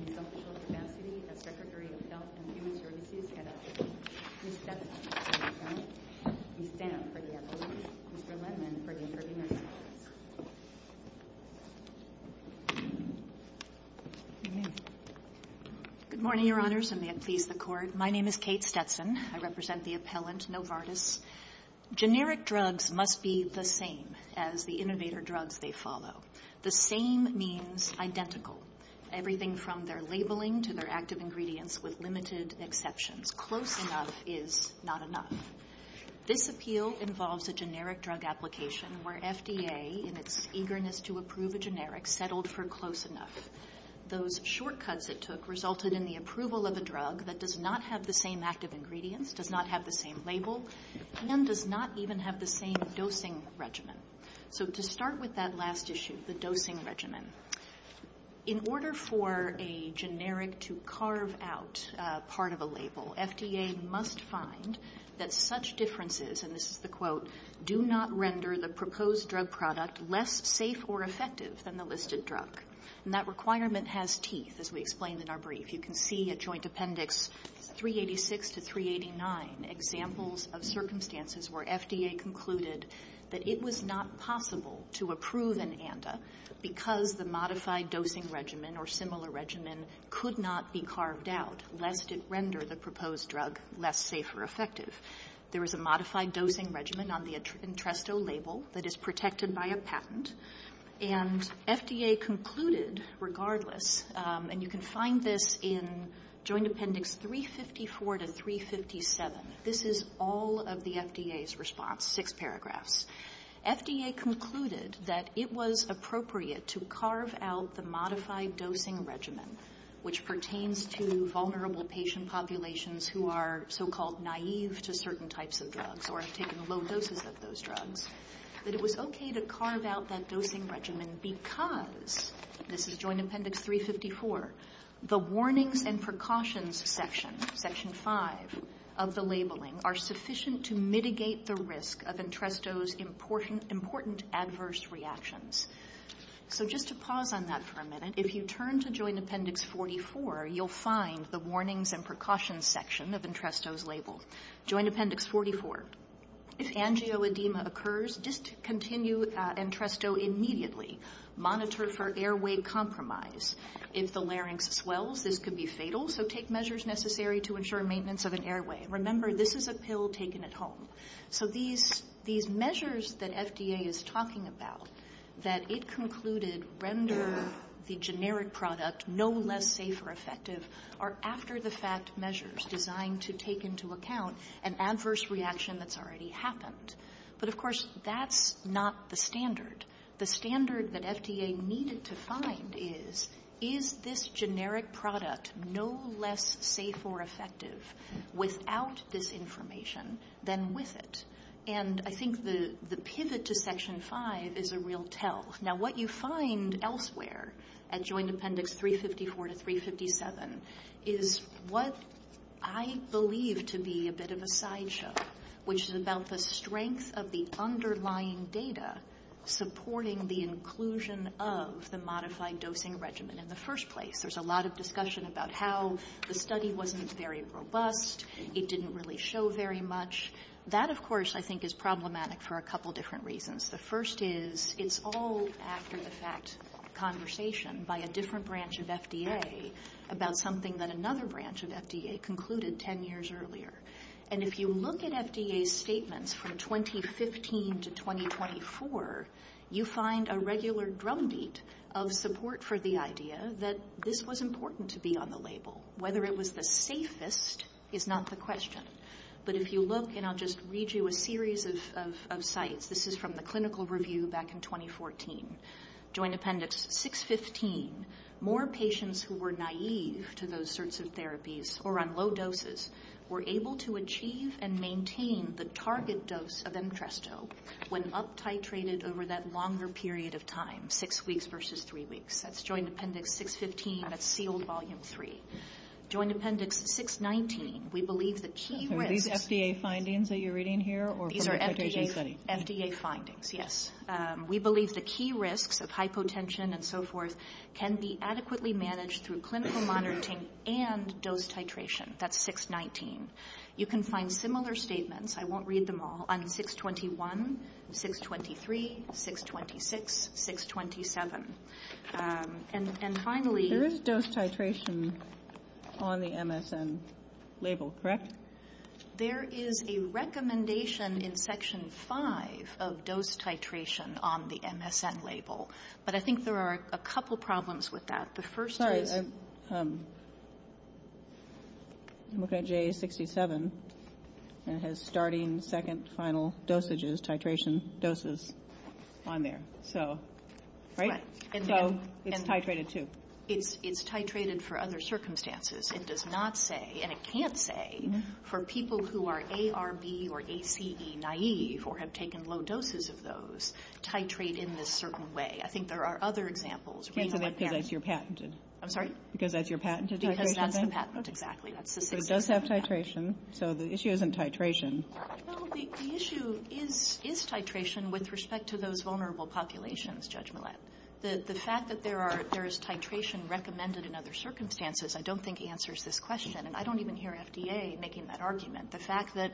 in his official capacity as Secretary of Health and Human Services, head of the Novartis Pharmaceuticals Corporation, Ms. Stetson, for the appellate, Mr. Lendman, for the interviewer's comments. Ms. Stetson Good morning, Your Honors, and may it please the Court. My name is Kate Stetson. I represent the appellant, Novartis. Generic drugs must be the same as the innovator drugs they follow. The same means identical. Everything from their labeling to their active ingredients with limited exceptions. Close enough is not enough. This appeal involves a generic drug application where FDA, in its eagerness to approve a generic, settled for close enough. Those shortcuts it took resulted in the approval of a drug that does not have the same active ingredients, does not have the same label, and does not even have the same dosing regimen. So to start with that last issue, the dosing regimen, in order for a generic to carve out part of a label, FDA must find that such differences, and this is the quote, do not render the proposed drug product less safe or effective than the listed drug. And that requirement has teeth, as we explained in our brief. You can see at Joint Appendix 386 to 389, examples of circumstances where FDA concluded that it was not possible to approve an ANDA because the modified dosing regimen or similar regimen could not be carved out, lest it render the proposed drug less safe or effective. There is a modified dosing regimen on the Entresto label that is protected by a patent. And FDA concluded, regardless, and you can find this in Joint Appendix 354 to 357. This is all of the FDA's response, six paragraphs. FDA concluded that it was appropriate to carve out the modified dosing regimen, which pertains to vulnerable patient populations who are so-called naive to certain types of drugs or have taken low doses of those drugs, that it was okay to carve out that dosing regimen because, this is Joint Appendix 354, the warnings and precautions section, Section 5 of the labeling, are sufficient to mitigate the risk of Entresto's important adverse reactions. So just to pause on that for a minute, if you turn to Joint Appendix 44, you'll find the warnings and precautions section of Entresto's label. Joint Appendix 44. If angioedema occurs, discontinue Entresto immediately. Monitor for airway compromise. If the larynx swells, this could be fatal, so take measures necessary to ensure maintenance of an airway. Remember, this is a pill taken at home. So these measures that FDA is talking about, that it concluded render the generic product no less safe or effective, are after-the-fact measures designed to take into account an adverse reaction that's already happened. But, of course, that's not the standard. The standard that FDA needed to find is, is this generic product no less safe or effective without this information than with it? And I think the pivot to Section 5 is a real tell. Now, what you find elsewhere at Joint Appendix 354 to 357 is what I believe to be a bit of a sideshow, which is about the strength of the underlying data supporting the inclusion of the modified dosing regimen in the first place. There's a lot of discussion about how the study wasn't very robust. It didn't really show very much. That, of course, I think is problematic for a couple different reasons. The first is it's all after-the-fact conversation by a different branch of FDA about something that another branch of FDA concluded 10 years earlier. And if you look at FDA's statements from 2015 to 2024, you find a regular drumbeat of support for the idea that this was important to be on the label. Whether it was the safest is not the question. But if you look, and I'll just read you a series of sites, this is from the clinical review back in 2014, Joint Appendix 615, more patients who were naive to those sorts of therapies or on low doses were able to achieve and maintain the target dose of Emtresto when up titrated over that longer period of time, six weeks versus three weeks. That's Joint Appendix 615. That's sealed Volume 3. Joint Appendix 619, we believe the key risks... Are these FDA findings that you're reading here or from a presentation study? These are FDA findings, yes. We believe the key risks of hypotension and so forth can be adequately managed through clinical monitoring and dose titration. That's 619. You can find similar statements, I won't read them all, on 621, 623, 626, 627. And finally... There is dose titration on the MSN label, correct? There is a recommendation in Section 5 of dose titration on the MSN label, but I think there are a couple problems with that. The first is... Sorry, I'm looking at J67, and it has starting, second, final dosages, titration doses on there. So, right? So, it's titrated too. It's titrated for other circumstances. It does not say, and it can't say, for people who are ARB or ACE naive or have taken low doses of those, titrate in this certain way. I think there are other examples. Can't say that because that's your patented titration thing? I'm sorry? Because that's your patented titration thing? Because that's the patent, exactly. It does have titration, so the issue isn't titration. Well, the issue is titration with respect to those vulnerable populations, Judge Millett. The fact that there is titration recommended in other circumstances I don't think answers this question, and I don't even hear FDA making that argument. The fact that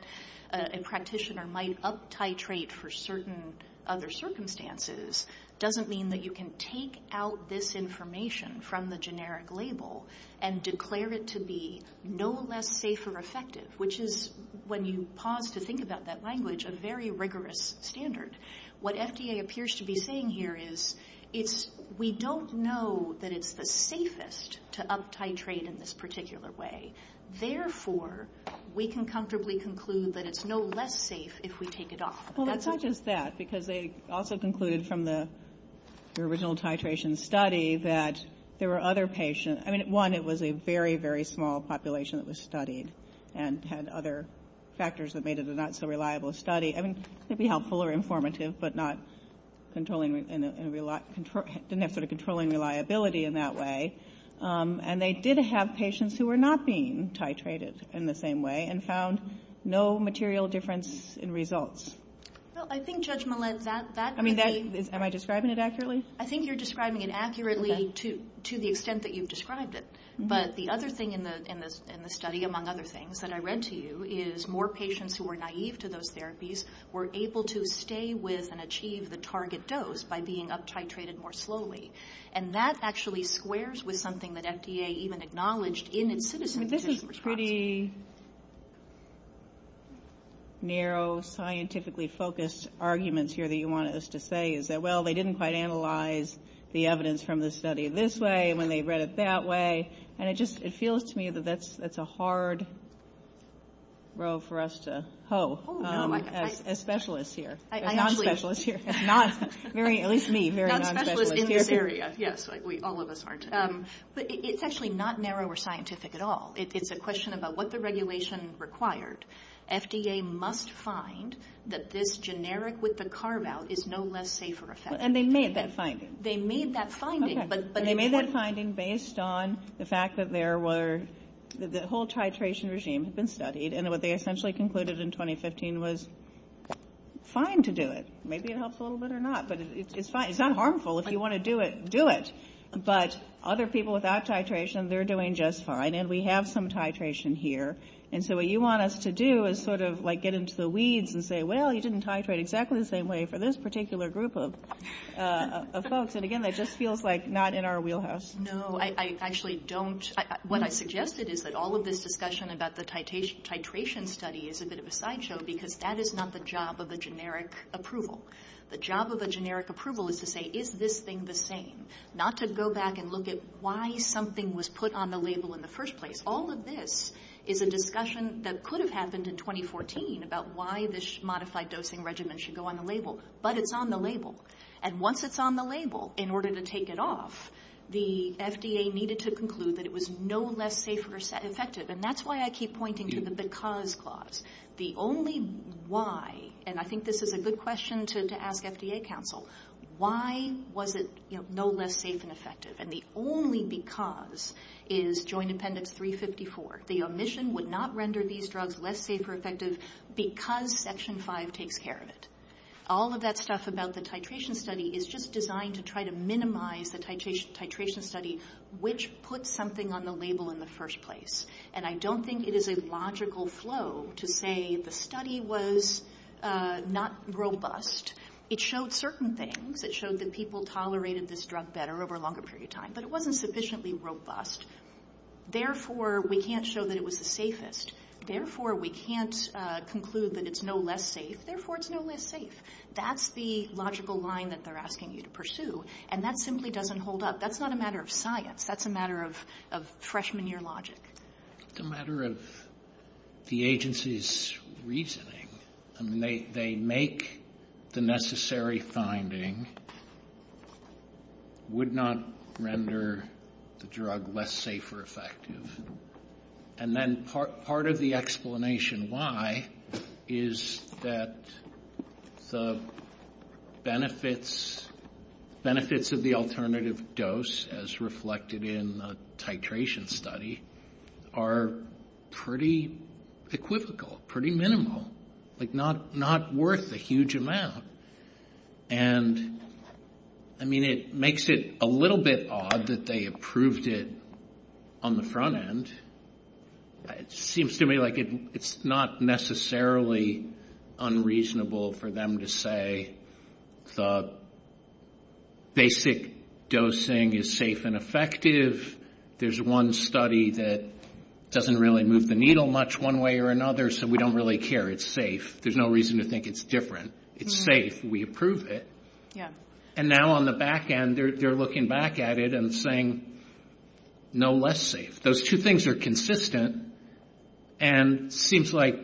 a practitioner might up-titrate for certain other circumstances doesn't mean that you can take out this information from the generic label and declare it to be no less safe or effective, which is, when you pause to think about that language, a very rigorous standard. What FDA appears to be saying here is we don't know that it's the safest to up-titrate in this particular way. Therefore, we can comfortably conclude that it's no less safe if we take it off. Well, it's not just that, because they also concluded from the original titration study that there were other patients. I mean, one, it was a very, very small population that was studied and had other factors that made it a not-so-reliable study. I mean, it could be helpful or informative, but didn't have sort of controlling reliability in that way. And they did have patients who were not being titrated in the same way and found no material difference in results. Well, I think, Judge Millett, that may be... I mean, am I describing it accurately? I think you're describing it accurately to the extent that you've described it. But the other thing in the study, among other things, that I read to you, is more patients who were naive to those therapies were able to stay with and achieve the target dose by being up-titrated more slowly. And that actually squares with something that FDA even acknowledged in its citizen physician response. I mean, this is pretty narrow, scientifically-focused arguments here that you wanted us to say, is that, well, they didn't quite analyze the evidence from the study this way when they read it that way. And it just feels to me that that's a hard row for us to hoe as specialists here, as non-specialists here. At least me, very non-specialist here. Not specialists in this area. Yes, all of us aren't. But it's actually not narrow or scientific at all. It's a question about what the regulation required. FDA must find that this generic with the carve-out is no less safe for effect. And they made that finding. They made that finding. And they made that finding based on the fact that there were the whole titration regime had been studied. And what they essentially concluded in 2015 was, fine to do it. Maybe it helps a little bit or not. But it's fine. It's not harmful. If you want to do it, do it. But other people without titration, they're doing just fine. And we have some titration here. And so what you want us to do is sort of like get into the weeds and say, well, you didn't titrate exactly the same way for this particular group of folks. And, again, that just feels like not in our wheelhouse. No, I actually don't. What I suggested is that all of this discussion about the titration study is a bit of a sideshow because that is not the job of a generic approval. The job of a generic approval is to say, is this thing the same? Not to go back and look at why something was put on the label in the first place. All of this is a discussion that could have happened in 2014 about why this modified dosing regimen should go on the label. But it's on the label. And once it's on the label, in order to take it off, the FDA needed to conclude that it was no less safe and effective. And that's why I keep pointing to the because clause. The only why, and I think this is a good question to ask FDA counsel, why was it no less safe and effective? And the only because is Joint Appendix 354. The omission would not render these drugs less safe or effective because Section 5 takes care of it. All of that stuff about the titration study is just designed to try to minimize the titration study, which puts something on the label in the first place. And I don't think it is a logical flow to say the study was not robust. It showed certain things. It showed that people tolerated this drug better over a longer period of time. But it wasn't sufficiently robust. Therefore, we can't show that it was the safest. Therefore, we can't conclude that it's no less safe. Therefore, it's no less safe. That's the logical line that they're asking you to pursue. And that simply doesn't hold up. That's not a matter of science. That's a matter of freshman year logic. It's a matter of the agency's reasoning. They make the necessary finding. Would not render the drug less safe or effective. And then part of the explanation why is that the benefits of the alternative dose, as reflected in the titration study, are pretty equivocal, pretty minimal, like not worth a huge amount. And, I mean, it makes it a little bit odd that they approved it on the front end. It seems to me like it's not necessarily unreasonable for them to say the basic dosing is safe and effective. There's one study that doesn't really move the needle much one way or another, so we don't really care. It's safe. There's no reason to think it's different. It's safe. We approve it. And now on the back end, they're looking back at it and saying no less safe. Those two things are consistent. And it seems like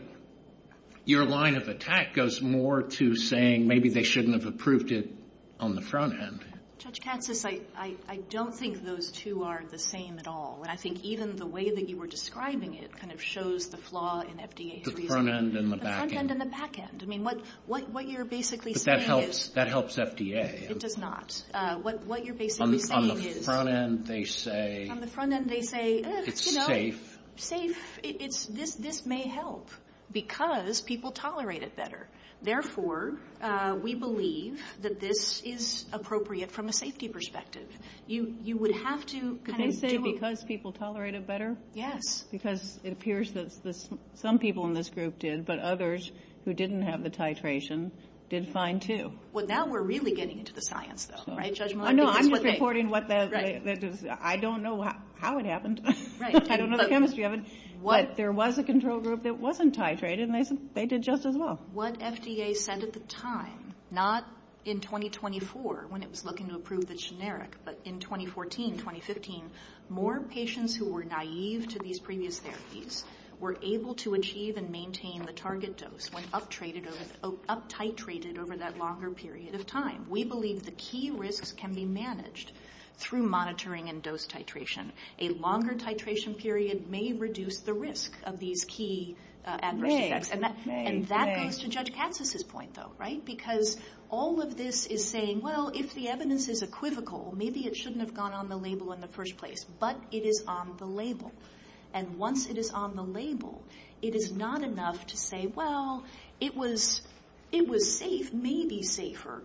your line of attack goes more to saying maybe they shouldn't have approved it on the front end. Judge Katsas, I don't think those two are the same at all. And I think even the way that you were describing it kind of shows the flaw in FDA's reasoning. The front end and the back end. The front end and the back end. I mean, what you're basically saying is. But that helps FDA. It does not. What you're basically saying is. On the front end, they say. It's safe. This may help because people tolerate it better. Therefore, we believe that this is appropriate from a safety perspective. You would have to. They say because people tolerate it better? Yes. Because it appears that some people in this group did, but others who didn't have the titration did fine, too. Well, now we're really getting into the science, though. Right, Judge Muller? No, I'm just reporting what that is. I don't know how it happened. I don't know the chemistry of it. But there was a control group that wasn't titrated, and they did just as well. What FDA said at the time, not in 2024 when it was looking to approve the generic, but in 2014, 2015, more patients who were naive to these previous therapies were able to achieve and maintain the target dose when up titrated over that longer period of time. We believe the key risks can be managed through monitoring and dose titration. A longer titration period may reduce the risk of these key adverse effects. And that goes to Judge Katsas' point, though, right? Because all of this is saying, well, if the evidence is equivocal, maybe it shouldn't have gone on the label in the first place. But it is on the label. And once it is on the label, it is not enough to say, well, it was safe, maybe safer,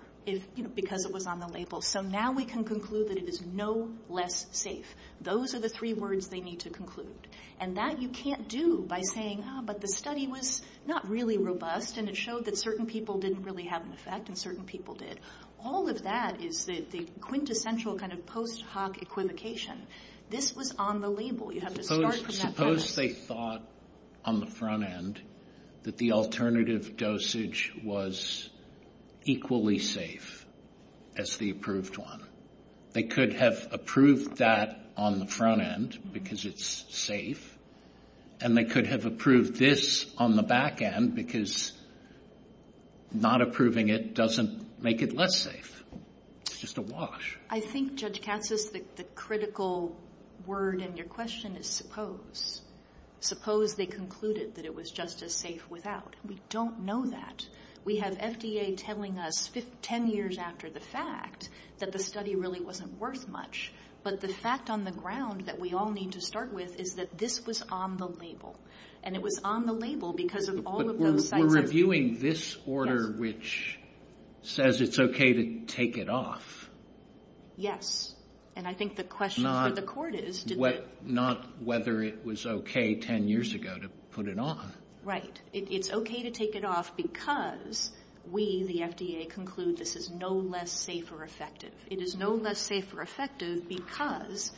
because it was on the label. So now we can conclude that it is no less safe. Those are the three words they need to conclude. And that you can't do by saying, but the study was not really robust, and it showed that certain people didn't really have an effect, and certain people did. All of that is the quintessential kind of post hoc equivocation. This was on the label. You have to start from that premise. Suppose they thought on the front end that the alternative dosage was equally safe as the approved one. They could have approved that on the front end because it is safe. And they could have approved this on the back end because not approving it doesn't make it less safe. It is just a wash. I think, Judge Katsas, the critical word in your question is suppose. Suppose they concluded that it was just as safe without. We don't know that. We have FDA telling us 10 years after the fact that the study really wasn't worth much. But the fact on the ground that we all need to start with is that this was on the label. And it was on the label because of all of those sites. We're reviewing this order which says it's okay to take it off. Yes. And I think the question for the court is. Not whether it was okay 10 years ago to put it on. Right. It's okay to take it off because we, the FDA, conclude this is no less safe or effective. It is no less safe or effective because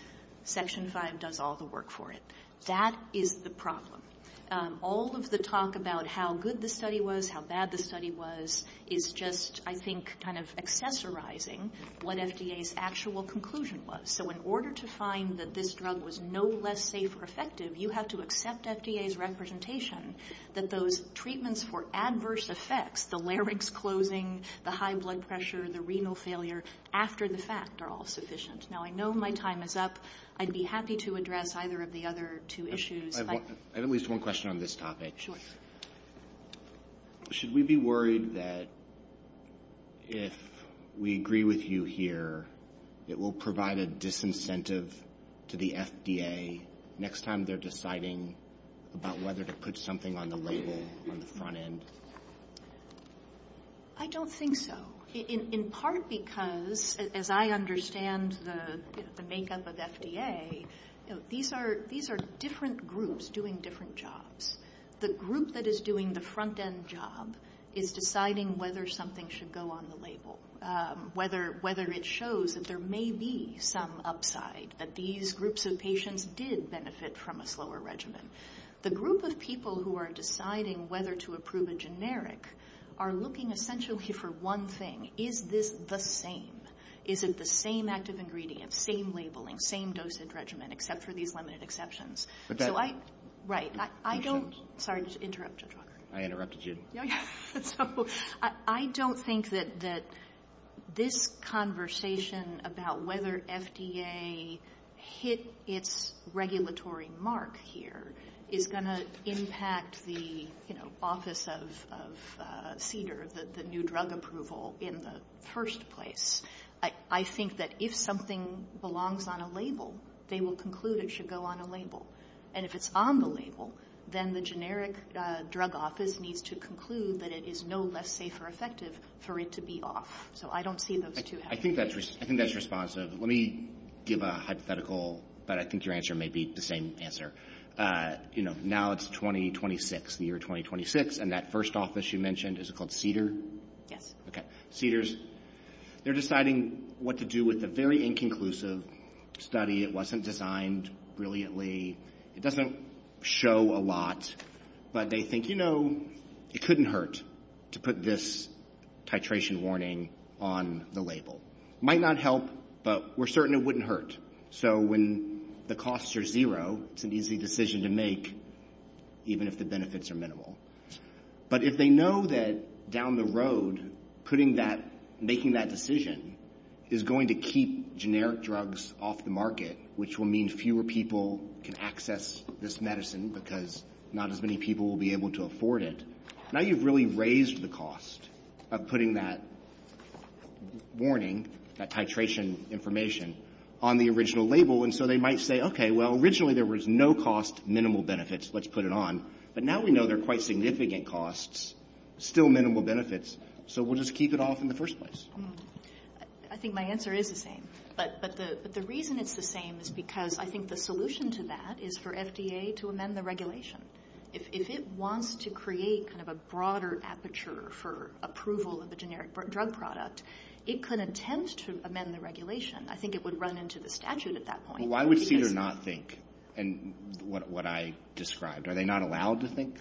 Section 5 does all the work for it. That is the problem. All of the talk about how good the study was, how bad the study was, is just, I think, kind of accessorizing what FDA's actual conclusion was. So in order to find that this drug was no less safe or effective, you have to accept FDA's representation that those treatments for adverse effects, the larynx closing, the high blood pressure, the renal failure, after the fact are all sufficient. Now, I know my time is up. I'd be happy to address either of the other two issues. I have at least one question on this topic. Should we be worried that if we agree with you here, it will provide a disincentive to the FDA next time they're deciding about whether to put something on the label, on the front end? I don't think so. In part because, as I understand the makeup of FDA, these are different groups doing different jobs. The group that is doing the front end job is deciding whether something should go on the label, whether it shows that there may be some upside, that these groups of patients did benefit from a slower regimen. The group of people who are deciding whether to approve a generic are looking essentially for one thing. Is this the same? Is it the same active ingredient, same labeling, same dosage regimen, except for these limited exceptions? So I don't think that this conversation about whether FDA hit its regulatory mark here is going to impact the office of CDER, the new drug approval, in the first place. I think that if something belongs on a label, they will conclude it should go on a label. And if it's on the label, then the generic drug office needs to conclude that it is no less safe or effective for it to be off. So I don't see those two happening. I think that's responsive. Let me give a hypothetical, but I think your answer may be the same answer. You know, now it's 2026, the year 2026, and that first office you mentioned, is it called CDER? Yes. Okay. CDERs, they're deciding what to do with a very inconclusive study. It wasn't designed brilliantly. It doesn't show a lot, but they think, you know, it couldn't hurt to put this titration warning on the label. Might not help, but we're certain it wouldn't hurt. So when the costs are zero, it's an easy decision to make, even if the benefits are minimal. But if they know that down the road, putting that, making that decision, is going to keep generic drugs off the market, which will mean fewer people can access this medicine because not as many people will be able to afford it, now you've really raised the cost of putting that warning, that titration information, on the original label. And so they might say, okay, well, originally there was no cost, minimal benefits, let's put it on. But now we know they're quite significant costs, still minimal benefits, so we'll just keep it off in the first place. I think my answer is the same. But the reason it's the same is because I think the solution to that is for FDA to amend the regulation. If it wants to create kind of a broader aperture for approval of a generic drug product, it could attempt to amend the regulation. I think it would run into the statute at that point. Why would CDER not think? And what I described, are they not allowed to think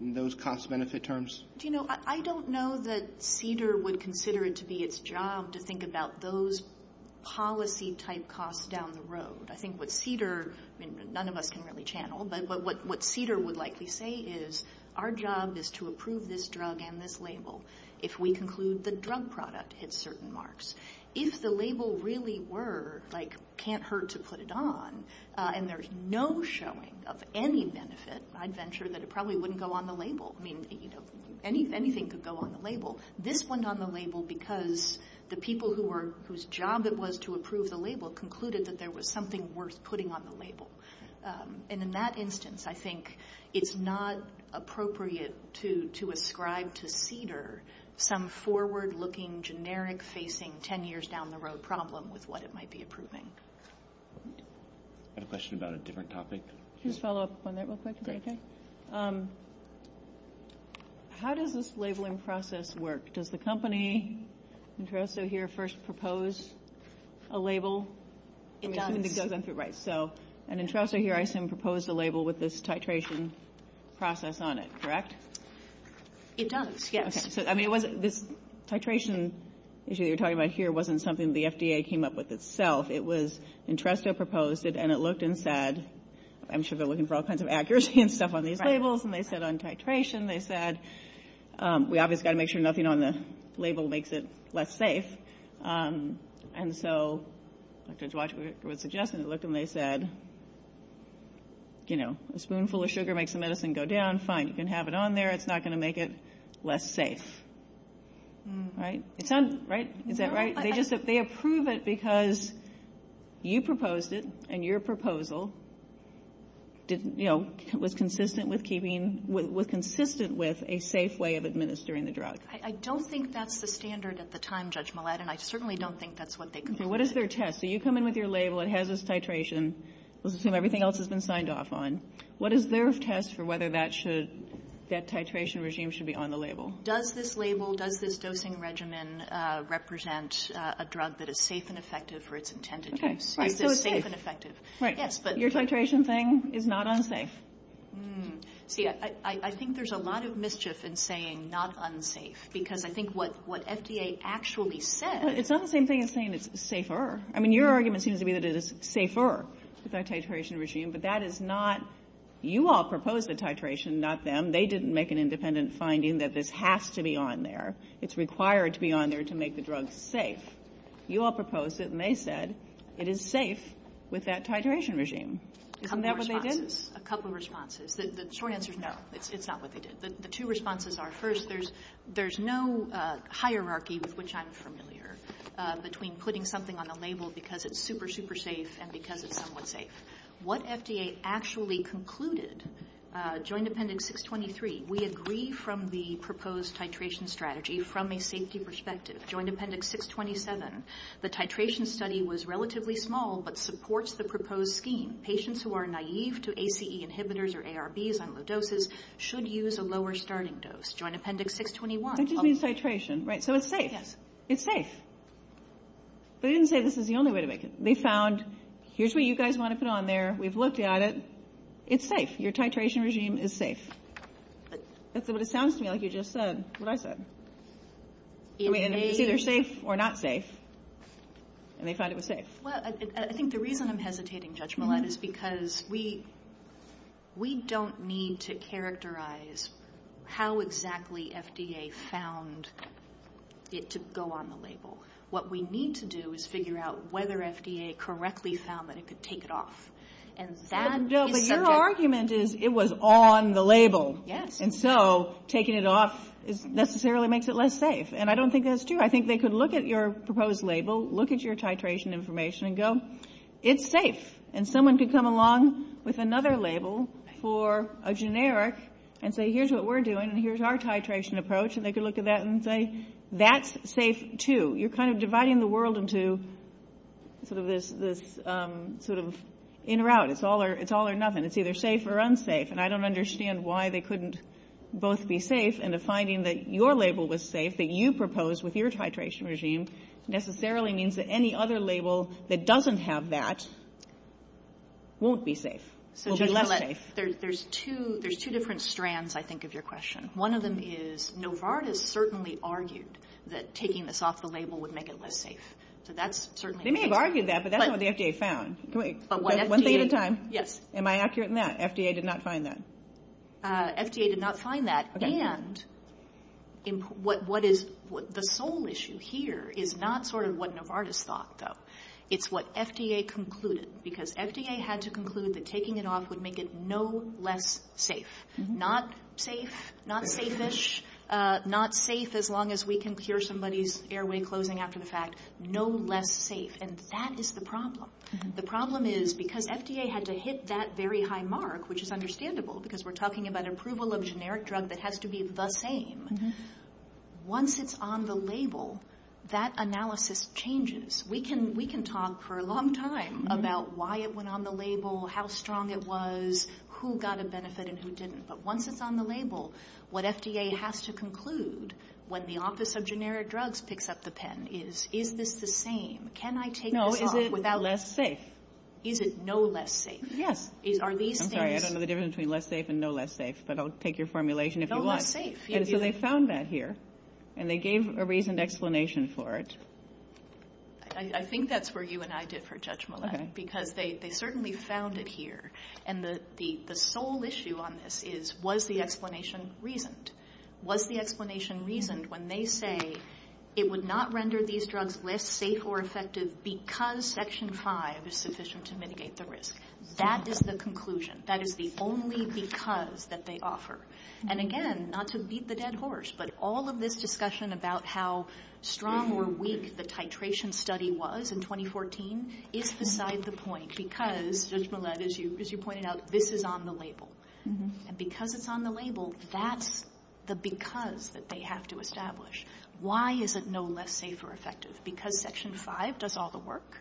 in those cost-benefit terms? Do you know, I don't know that CDER would consider it to be its job to think about those policy-type costs down the road. I think what CDER, I mean, none of us can really channel, but what CDER would likely say is our job is to approve this drug and this label if we conclude the drug product hits certain marks. If the label really were, like, can't hurt to put it on, and there's no showing of any benefit, I'd venture that it probably wouldn't go on the label. I mean, you know, anything could go on the label. This went on the label because the people whose job it was to approve the label concluded that there was something worth putting on the label. And in that instance, I think it's not appropriate to ascribe to CDER some forward-looking, generic-facing, 10-years-down-the-road problem with what it might be approving. I have a question about a different topic. Just a follow-up on that real quick, if that's okay. How does this labeling process work? Does the company, Interesto here, first propose a label? It does. It does, right. So Interesto here, I assume, proposed a label with this titration process on it, correct? It does, yes. So, I mean, this titration issue that you're talking about here wasn't something the FDA came up with itself. It was Interesto proposed it, and it looked and said, I'm sure they're looking for all kinds of accuracy and stuff on these labels, and they said on titration, they said we obviously got to make sure nothing on the label makes it less safe. And so, Dr. Dzwajic was suggesting it looked, and they said, you know, a spoonful of sugar makes the medicine go down, fine, you can have it on there, it's not going to make it less safe. Right? Right? Is that right? They approve it because you proposed it, and your proposal, you know, was consistent with keeping, was consistent with a safe way of administering the drug. I don't think that's the standard at the time, Judge Millett, and I certainly don't think that's what they came up with. What is their test? So you come in with your label, it has this titration, let's assume everything else has been signed off on. What is their test for whether that should, that titration regime should be on the label? Does this label, does this dosing regimen represent a drug that is safe and effective for its intended use? Okay. Right. So it's safe. Is it safe and effective? Right. Yes, but. Your titration thing is not unsafe. See, I think there's a lot of mischief in saying not unsafe, because I think what FDA actually said. It's not the same thing as saying it's safer. I mean, your argument seems to be that it is safer with that titration regime, but that is not, you all proposed the titration, not them. They didn't make an independent finding that this has to be on there. It's required to be on there to make the drug safe. You all proposed it, and they said it is safe with that titration regime. Isn't that what they did? A couple of responses. The short answer is no. It's not what they did. The two responses are, first, there's no hierarchy with which I'm familiar between putting something on the label because it's super, super safe and because it's somewhat safe. What FDA actually concluded, Joint Appendix 623, we agree from the proposed titration strategy from a safety perspective. Joint Appendix 627, the titration study was relatively small, but supports the proposed scheme. Patients who are naive to ACE inhibitors or ARBs on low doses should use a lower starting dose. Joint Appendix 621. That just means titration, right? So it's safe. Yes. It's safe. But they didn't say this is the only way to make it. They found, here's what you guys want to put on there. We've looked at it. It's safe. Your titration regime is safe. That's what it sounds to me like you just said, what I said. I mean, it's either safe or not safe, and they found it was safe. Well, I think the reason I'm hesitating, Judge Millett, is because we don't need to characterize how exactly FDA found it to go on the label. What we need to do is figure out whether FDA correctly found that it could take it off. And that is subject. No, but your argument is it was on the label. Yes. And so taking it off necessarily makes it less safe. And I don't think that's true. I think they could look at your proposed label, look at your titration information, and go, it's safe. And someone could come along with another label for a generic and say, here's what we're doing, and here's our titration approach, and they could look at that and say, that's safe, too. You're kind of dividing the world into sort of this sort of in route. It's all or nothing. It's either safe or unsafe, and I don't understand why they couldn't both be safe and the finding that your label was safe that you proposed with your titration regime necessarily means that any other label that doesn't have that won't be safe, will be less safe. There's two different strands, I think, of your question. One of them is Novartis certainly argued that taking this off the label would make it less safe. So that's certainly true. They may have argued that, but that's not what the FDA found. One thing at a time. Yes. Am I accurate in that? FDA did not find that? FDA did not find that. And the sole issue here is not sort of what Novartis thought, though. It's what FDA concluded, because FDA had to conclude that taking it off would make it no less safe. Not safe, not safe-ish, not safe as long as we can cure somebody's airway closing after the fact. No less safe, and that is the problem. The problem is because FDA had to hit that very high mark, which is understandable, because we're talking about approval of a generic drug that has to be the same. Once it's on the label, that analysis changes. We can talk for a long time about why it went on the label, how strong it was, who got a benefit and who didn't. But once it's on the label, what FDA has to conclude when the Office of Generic Drugs picks up the pen is, is this the same? Can I take this off without- No, is it less safe? Is it no less safe? Yes. Are these things- I'm sorry, I don't know the difference between less safe and no less safe, but I'll take your formulation if you want. No less safe. And so they found that here, and they gave a reasoned explanation for it. I think that's where you and I differ, Judge Millett, because they certainly found it here. And the sole issue on this is, was the explanation reasoned? Was the explanation reasoned when they say it would not render these drugs less safe or effective because Section 5 is sufficient to mitigate the risk? That is the conclusion. That is the only because that they offer. And again, not to beat the dead horse, but all of this discussion about how strong or weak the titration study was in 2014 is beside the point because, Judge Millett, as you pointed out, this is on the label. And because it's on the label, that's the because that they have to establish. Why is it no less safe or effective? Because Section 5 does all the work.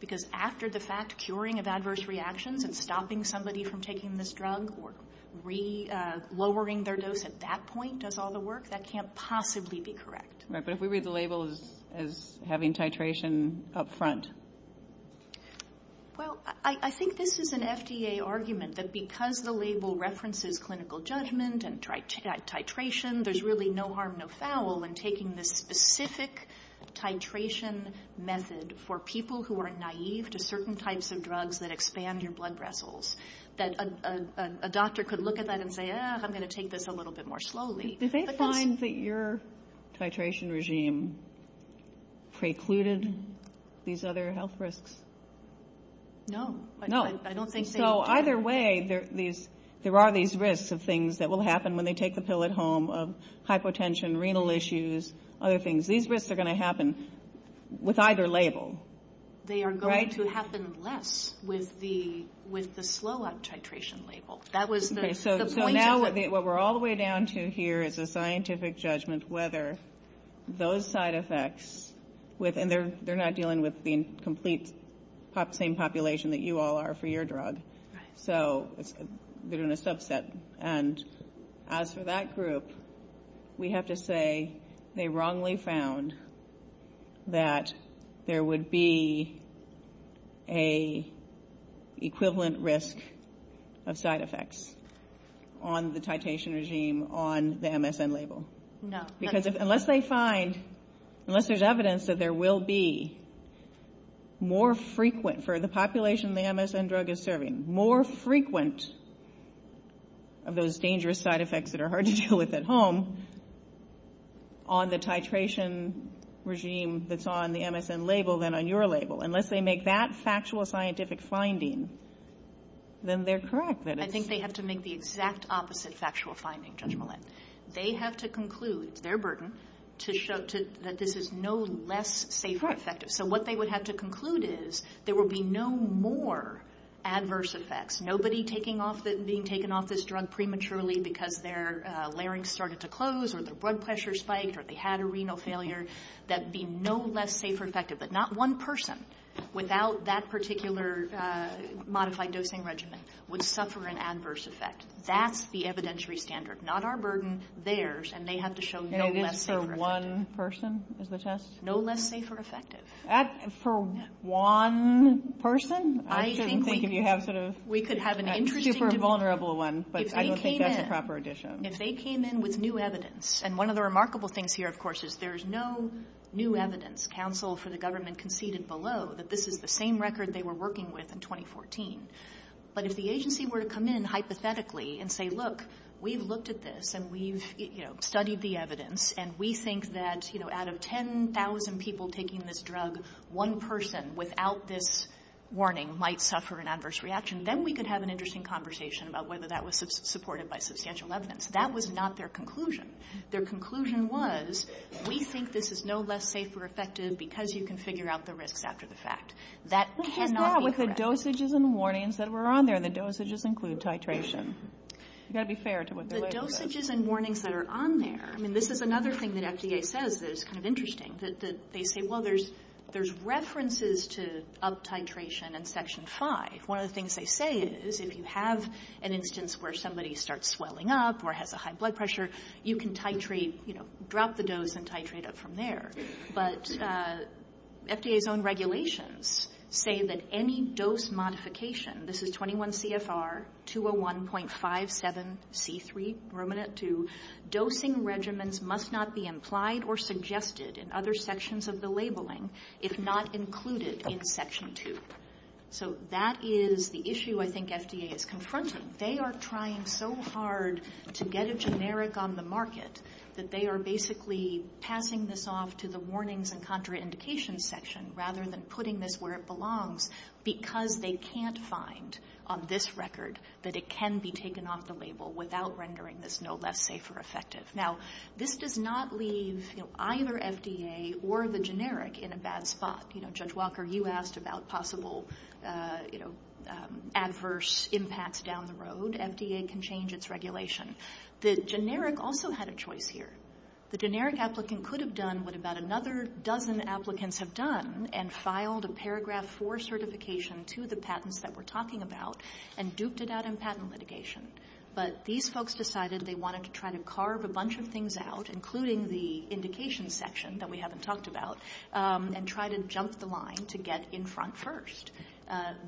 Because after the fact, curing of adverse reactions and stopping somebody from taking this drug or re-lowering their dose at that point does all the work. That can't possibly be correct. Right. But if we read the label as having titration up front? Well, I think this is an FDA argument that because the label references clinical judgment and titration, there's really no harm, no foul in taking this specific titration method for people who are naive to certain types of drugs that expand your blood vessels, that a doctor could look at that and say, I'm going to take this a little bit more slowly. Did they find that your titration regime precluded these other health risks? No. No. So either way, there are these risks of things that will happen when they take the pill at home of hypotension, renal issues, other things. These risks are going to happen with either label. They are going to happen less with the slow-up titration label. That was the point of it. So now what we're all the way down to here is a scientific judgment whether those side effects, and they're not dealing with the complete same population that you all are for your drug. So they're doing a subset. And as for that group, we have to say they wrongly found that there would be an equivalent risk of side effects on the titration regime on the MSN label. No. Because unless they find, unless there's evidence that there will be more frequent for the population the MSN drug is serving, more frequent of those dangerous side effects that are hard to deal with at home on the titration regime that's on the MSN label than on your label, unless they make that factual scientific finding, then they're correct. I think they have to make the exact opposite factual finding, Judge Millett. They have to conclude, it's their burden, to show that this is no less safe or effective. So what they would have to conclude is there will be no more adverse effects. Nobody being taken off this drug prematurely because their larynx started to close or their blood pressure spiked or they had a renal failure, that would be no less safe or effective. But not one person without that particular modified dosing regimen would suffer an adverse effect. That's the evidentiary standard. Not our burden, theirs, and they have to show no less safe or effective. And it is for one person is the test? No less safe or effective. For one person? I shouldn't think if you have sort of a super vulnerable one, but I don't think that's a proper addition. If they came in with new evidence, and one of the remarkable things here, of course, is there's no new evidence. Counsel for the government conceded below that this is the same record they were working with in 2014. But if the agency were to come in hypothetically and say, look, we've looked at this and we've, you know, studied the evidence, and we think that, you know, out of 10,000 people taking this drug, one person without this warning might suffer an adverse reaction, then we could have an interesting conversation about whether that was supported by substantial evidence. That was not their conclusion. Their conclusion was we think this is no less safe or effective because you can figure out the risks after the fact. That cannot be correct. But the dosages and warnings that were on there, the dosages include titration. You've got to be fair to what they're saying. The dosages and warnings that are on there, I mean, this is another thing that FDA says that is kind of interesting, that they say, well, there's references to up-titration in Section 5. One of the things they say is if you have an instance where somebody starts swelling up or has a high blood pressure, you can titrate, you know, drop the dose and titrate it from there. But FDA's own regulations say that any dose modification, this is 21 CFR, 201.57C3, dosing regimens must not be implied or suggested in other sections of the labeling if not included in Section 2. So that is the issue I think FDA is confronting. They are trying so hard to get it generic on the market that they are basically passing this off to the warnings and contraindications section rather than putting this where it belongs because they can't find on this record that it can be taken off the label without rendering this no less safe or effective. Now, this does not leave either FDA or the generic in a bad spot. You know, Judge Walker, you asked about possible adverse impacts down the road. FDA can change its regulation. The generic also had a choice here. The generic applicant could have done what about another dozen applicants have done and filed a Paragraph 4 certification to the patents that we're talking about and duped it out in patent litigation. But these folks decided they wanted to try to carve a bunch of things out, including the indication section that we haven't talked about, and try to jump the line to get in front first.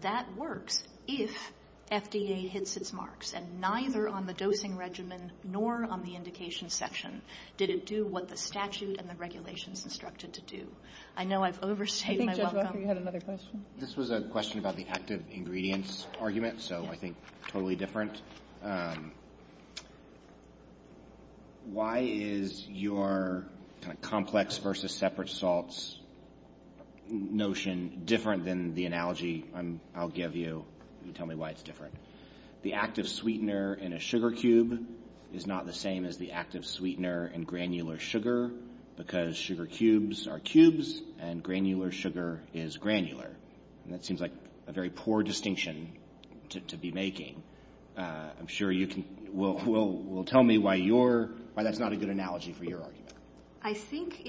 That works if FDA hits its marks. And neither on the dosing regimen nor on the indication section did it do what the statute and the regulations instructed to do. I know I've overstated my welcome. I think, Judge Walker, you had another question. This was a question about the active ingredients argument, so I think totally different. Why is your kind of complex versus separate salts notion different than the analogy I'll give you? Can you tell me why it's different? The active sweetener in a sugar cube is not the same as the active sweetener in granular sugar because sugar cubes are cubes and granular sugar is granular. And that seems like a very poor distinction to be making. I'm sure you can tell me why that's not a good analogy for your argument. I think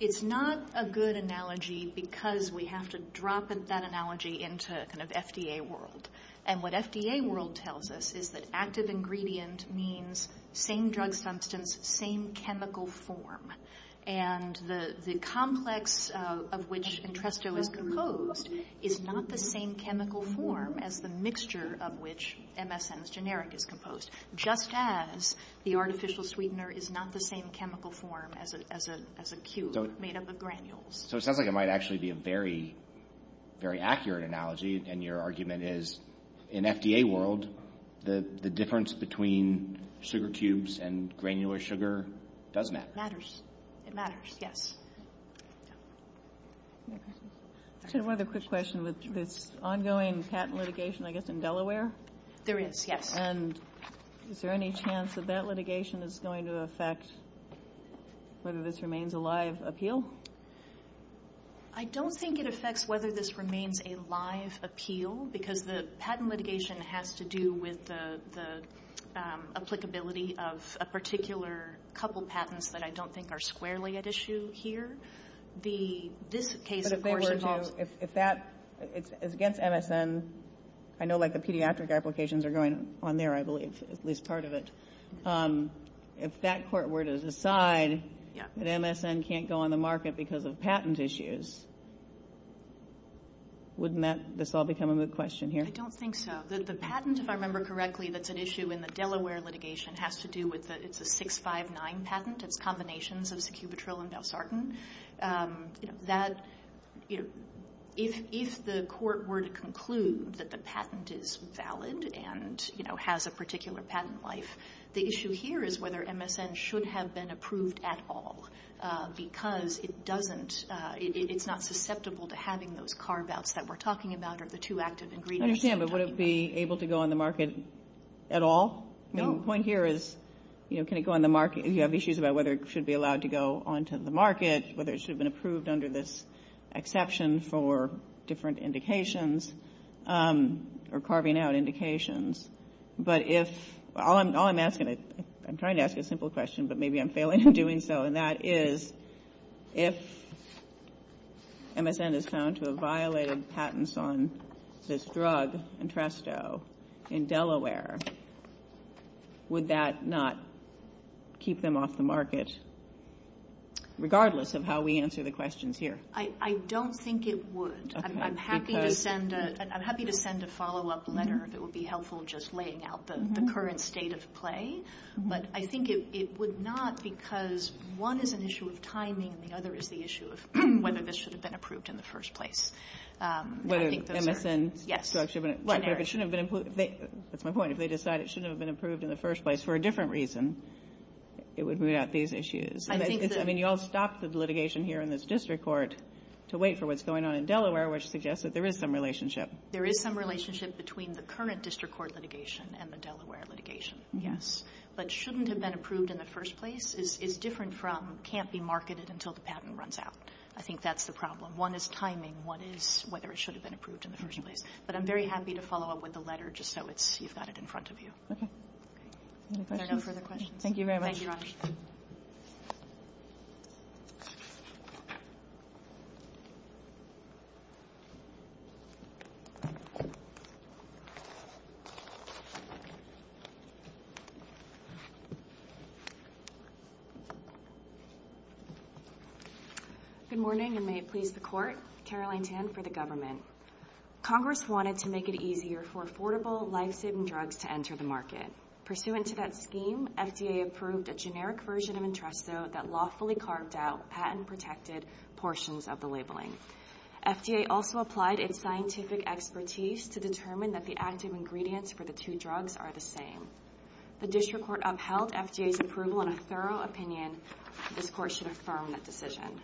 it's not a good analogy because we have to drop that analogy into kind of FDA world. And what FDA world tells us is that active ingredient means same drug substance, same chemical form. And the complex of which Entresto is composed is not the same chemical form as the mixture of which MSN is generic is composed, just as the artificial sweetener is not the same chemical form as a cube made up of granules. So it sounds like it might actually be a very, very accurate analogy, and your argument is in FDA world the difference between sugar cubes and granular sugar does matter. It matters. It matters, yes. Any other questions? I just had one other quick question with this ongoing patent litigation, I guess, in Delaware. There is, yes. And is there any chance that that litigation is going to affect whether this remains a live appeal? I don't think it affects whether this remains a live appeal because the patent litigation has to do with the applicability of a particular couple patents that I don't think are squarely at issue here. This case, of course, involves – But if they were to – if that – it's against MSN. I know, like, the pediatric applications are going on there, I believe, at least part of it. If that court were to decide that MSN can't go on the market because of patent issues, wouldn't this all become a moot question here? I don't think so. The patent, if I remember correctly, that's at issue in the Delaware litigation has to do with – it's combinations of Secubitril and Valsartan. That – if the court were to conclude that the patent is valid and, you know, has a particular patent life, the issue here is whether MSN should have been approved at all because it doesn't – it's not susceptible to having those carve-outs that we're talking about or the two active ingredients. I understand, but would it be able to go on the market at all? No. The point here is, you know, can it go on the market? You have issues about whether it should be allowed to go onto the market, whether it should have been approved under this exception for different indications or carving out indications. But if – all I'm asking – I'm trying to ask a simple question, but maybe I'm failing in doing so, and that is if MSN is found to have violated patents on this drug Entresto in Delaware, would that not keep them off the market regardless of how we answer the questions here? I don't think it would. I'm happy to send a follow-up letter if it would be helpful just laying out the current state of play. But I think it would not because one is an issue of timing and the other is the issue of whether this should have been approved in the first place. Whether MSN should have been approved. That's my point. If they decide it shouldn't have been approved in the first place for a different reason, it would root out these issues. I mean, you all stopped the litigation here in this district court to wait for what's going on in Delaware, which suggests that there is some relationship. There is some relationship between the current district court litigation and the Delaware litigation. Yes. But shouldn't have been approved in the first place is different from can't be marketed until the patent runs out. I think that's the problem. One is timing. One is whether it should have been approved in the first place. But I'm very happy to follow up with the letter just so you've got it in front of you. Okay. Are there no further questions? Thank you very much. Thank you, Ron. Good morning, and may it please the Court. Caroline Tan for the government. Congress wanted to make it easier for affordable, lifesaving drugs to enter the market. Pursuant to that scheme, FDA approved a generic version of Entresto that lawfully carved out patent-protected portions of the labeling. FDA also applied its scientific expertise to determine that the active ingredients for the two drugs are the same. The district court upheld FDA's approval in a thorough opinion. This Court should affirm that decision.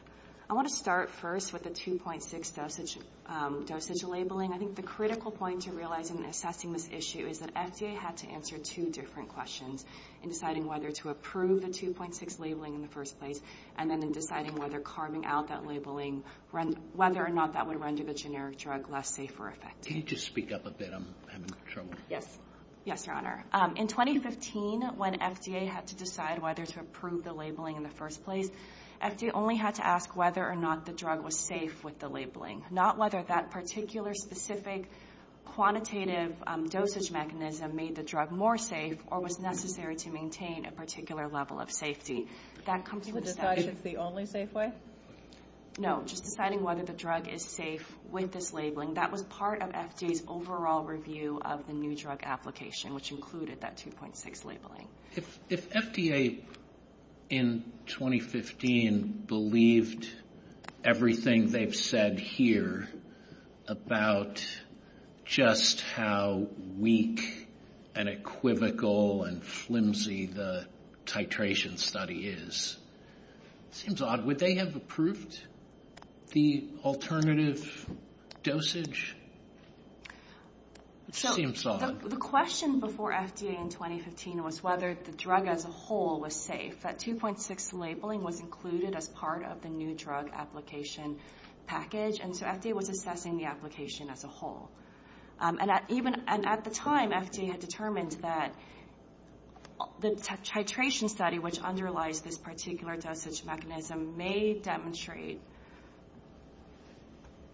I want to start first with the 2.6 dosage labeling. I think the critical point to realize in assessing this issue is that FDA had to answer two different questions in deciding whether to approve the 2.6 labeling in the first place and then in deciding whether carving out that labeling, whether or not that would render the generic drug less safe or effective. Can you just speak up a bit? I'm having trouble. Yes. Yes, Your Honor. In 2015, when FDA had to decide whether to approve the labeling in the first place, FDA only had to ask whether or not the drug was safe with the labeling, not whether that particular, specific, quantitative dosage mechanism made the drug more safe or was necessary to maintain a particular level of safety. That comes with the statute. You would decide it's the only safe way? No, just deciding whether the drug is safe with this labeling. That was part of FDA's overall review of the new drug application, which included that 2.6 labeling. If FDA in 2015 believed everything they've said here about just how weak and equivocal and flimsy the titration study is, it seems odd. Would they have approved the alternative dosage? It seems odd. The question before FDA in 2015 was whether the drug as a whole was safe. That 2.6 labeling was included as part of the new drug application package, and so FDA was assessing the application as a whole. And at the time, FDA had determined that the titration study, which underlies this particular dosage mechanism, may demonstrate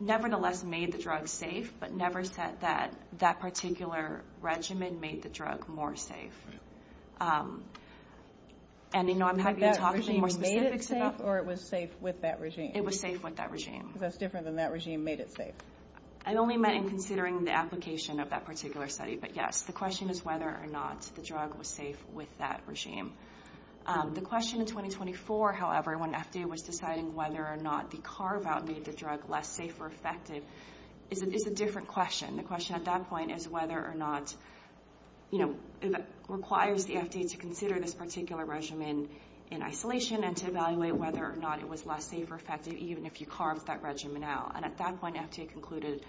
nevertheless made the drug safe but never said that that particular regimen made the drug more safe. And, you know, I'm happy to talk about more specifics about that. That regime made it safe, or it was safe with that regime? It was safe with that regime. Because that's different than that regime made it safe. I only meant in considering the application of that particular study. But, yes, the question is whether or not the drug was safe with that regime. The question in 2024, however, when FDA was deciding whether or not the carve-out made the drug less safe or effective, is a different question. The question at that point is whether or not, you know, it requires the FDA to consider this particular regimen in isolation and to evaluate whether or not it was less safe or effective, even if you carved that regimen out. And at that point, FDA concluded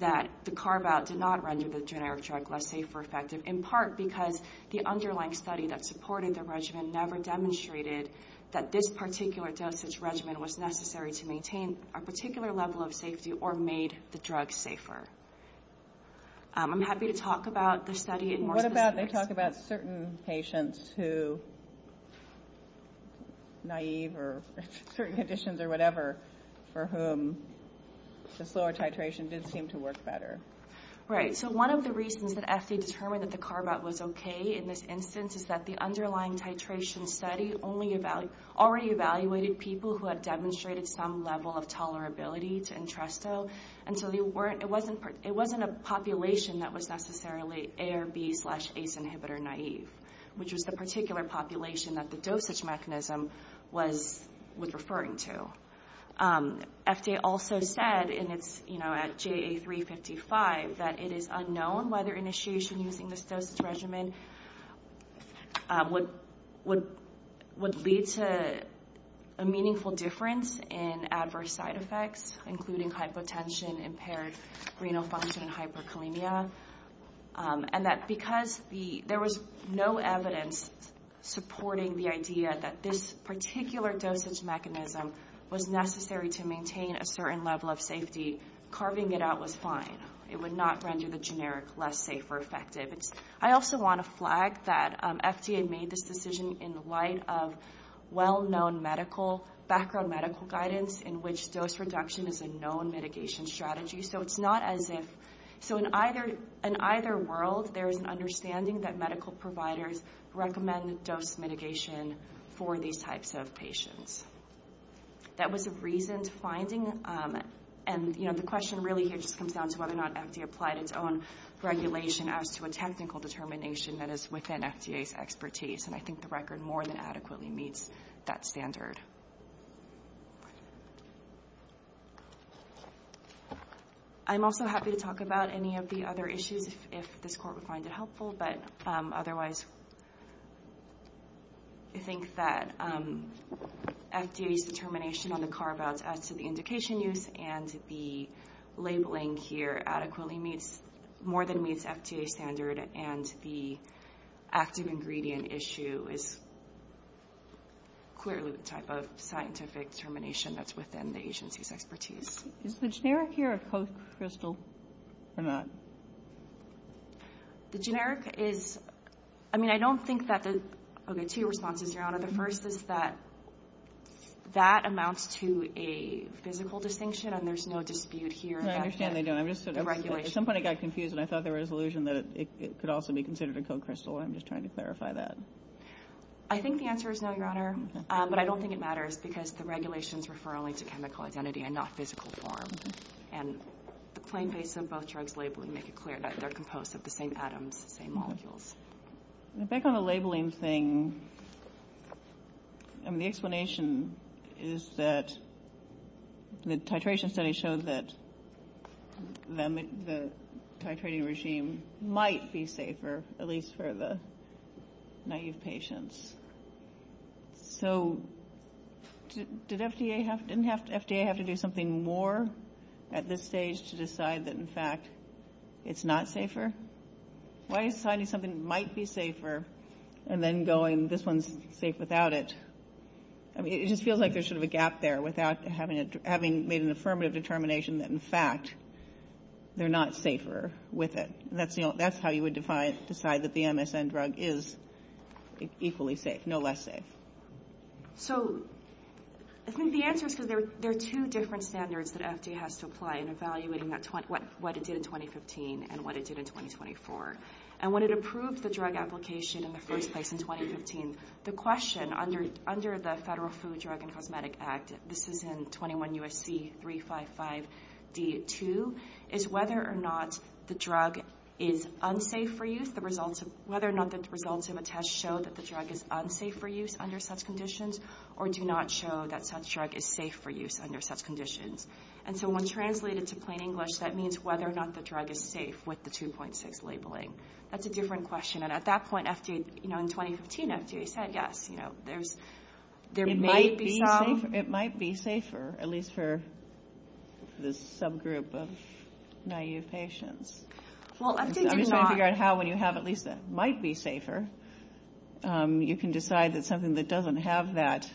that the carve-out did not render the generic drug less safe or effective, in part because the underlying study that supported the regimen never demonstrated that this particular dosage regimen was necessary to maintain a particular level of safety or made the drug safer. I'm happy to talk about the study in more specifics. What about they talk about certain patients who, naive or certain conditions or whatever, for whom the slower titration did seem to work better? Right. So one of the reasons that FDA determined that the carve-out was okay in this instance is that the underlying titration study already evaluated people who had demonstrated some level of tolerability to Entresto, and so it wasn't a population that was necessarily ARB slash ACE inhibitor naive, which was the particular population that the dosage mechanism was referring to. FDA also said, you know, at JA355, that it is unknown whether initiation using this dosage regimen would lead to a meaningful difference in adverse side effects, including hypotension, impaired renal function, and hyperkalemia, and that because there was no evidence supporting the idea that this particular dosage mechanism was necessary to maintain a certain level of safety, carving it out was fine. It would not render the generic less safe or effective. I also want to flag that FDA made this decision in light of well-known medical, background medical guidance in which dose reduction is a known mitigation strategy. So it's not as if so in either world there is an understanding that medical providers recommend dose mitigation for these types of patients. That was a reason to finding, and, you know, the question really here just comes down to whether or not FDA applied its own regulation as to a technical determination that is within FDA's expertise, and I think the record more than adequately meets that standard. I'm also happy to talk about any of the other issues if this Court would find it helpful, but otherwise I think that FDA's determination on the carve-outs as to the indication use and the labeling here adequately meets more than meets FDA standard and the active ingredient issue is clearly the type of scientific determination that's within the agency's expertise. Is the generic here or post-crystal? I'm not. The generic is, I mean, I don't think that the, okay, two responses, Your Honor. The first is that that amounts to a physical distinction and there's no dispute here. I understand they don't. At some point I got confused and I thought there was an illusion that it could also be considered a co-crystal. I'm just trying to clarify that. I think the answer is no, Your Honor, but I don't think it matters because the regulations refer only to chemical identity and not physical form, and the plain face of both drugs labeling make it clear that they're composed of the same atoms, the same molecules. Back on the labeling thing, I mean, the explanation is that the titration study showed that the titrating regime might be safer, at least for the naive patients. So did FDA have to do something more at this stage to decide that, in fact, it's not safer? Why is deciding something might be safer and then going, this one's safe without it? I mean, it just feels like there's sort of a gap there without having made an affirmative determination that, in fact, they're not safer with it. That's how you would decide that the MSN drug is equally safe, no less safe. So I think the answer is because there are two different standards that FDA has to apply in evaluating what it did in 2015 and what it did in 2024. And when it approved the drug application in the first place in 2015, the question under the Federal Food, Drug, and Cosmetic Act, this is in 21 U.S.C. 355D2, is whether or not the drug is unsafe for use, whether or not the results of a test show that the drug is unsafe for use under such conditions or do not show that such drug is safe for use under such conditions. And so when translated to plain English, that means whether or not the drug is safe with the 2.6 labeling. That's a different question. And at that point, in 2015, FDA said, yes, there might be some... It might be safer, at least for this subgroup of naive patients. Well, FDA did not... I'm just trying to figure out how, when you have at least that might be safer, you can decide that something that doesn't have that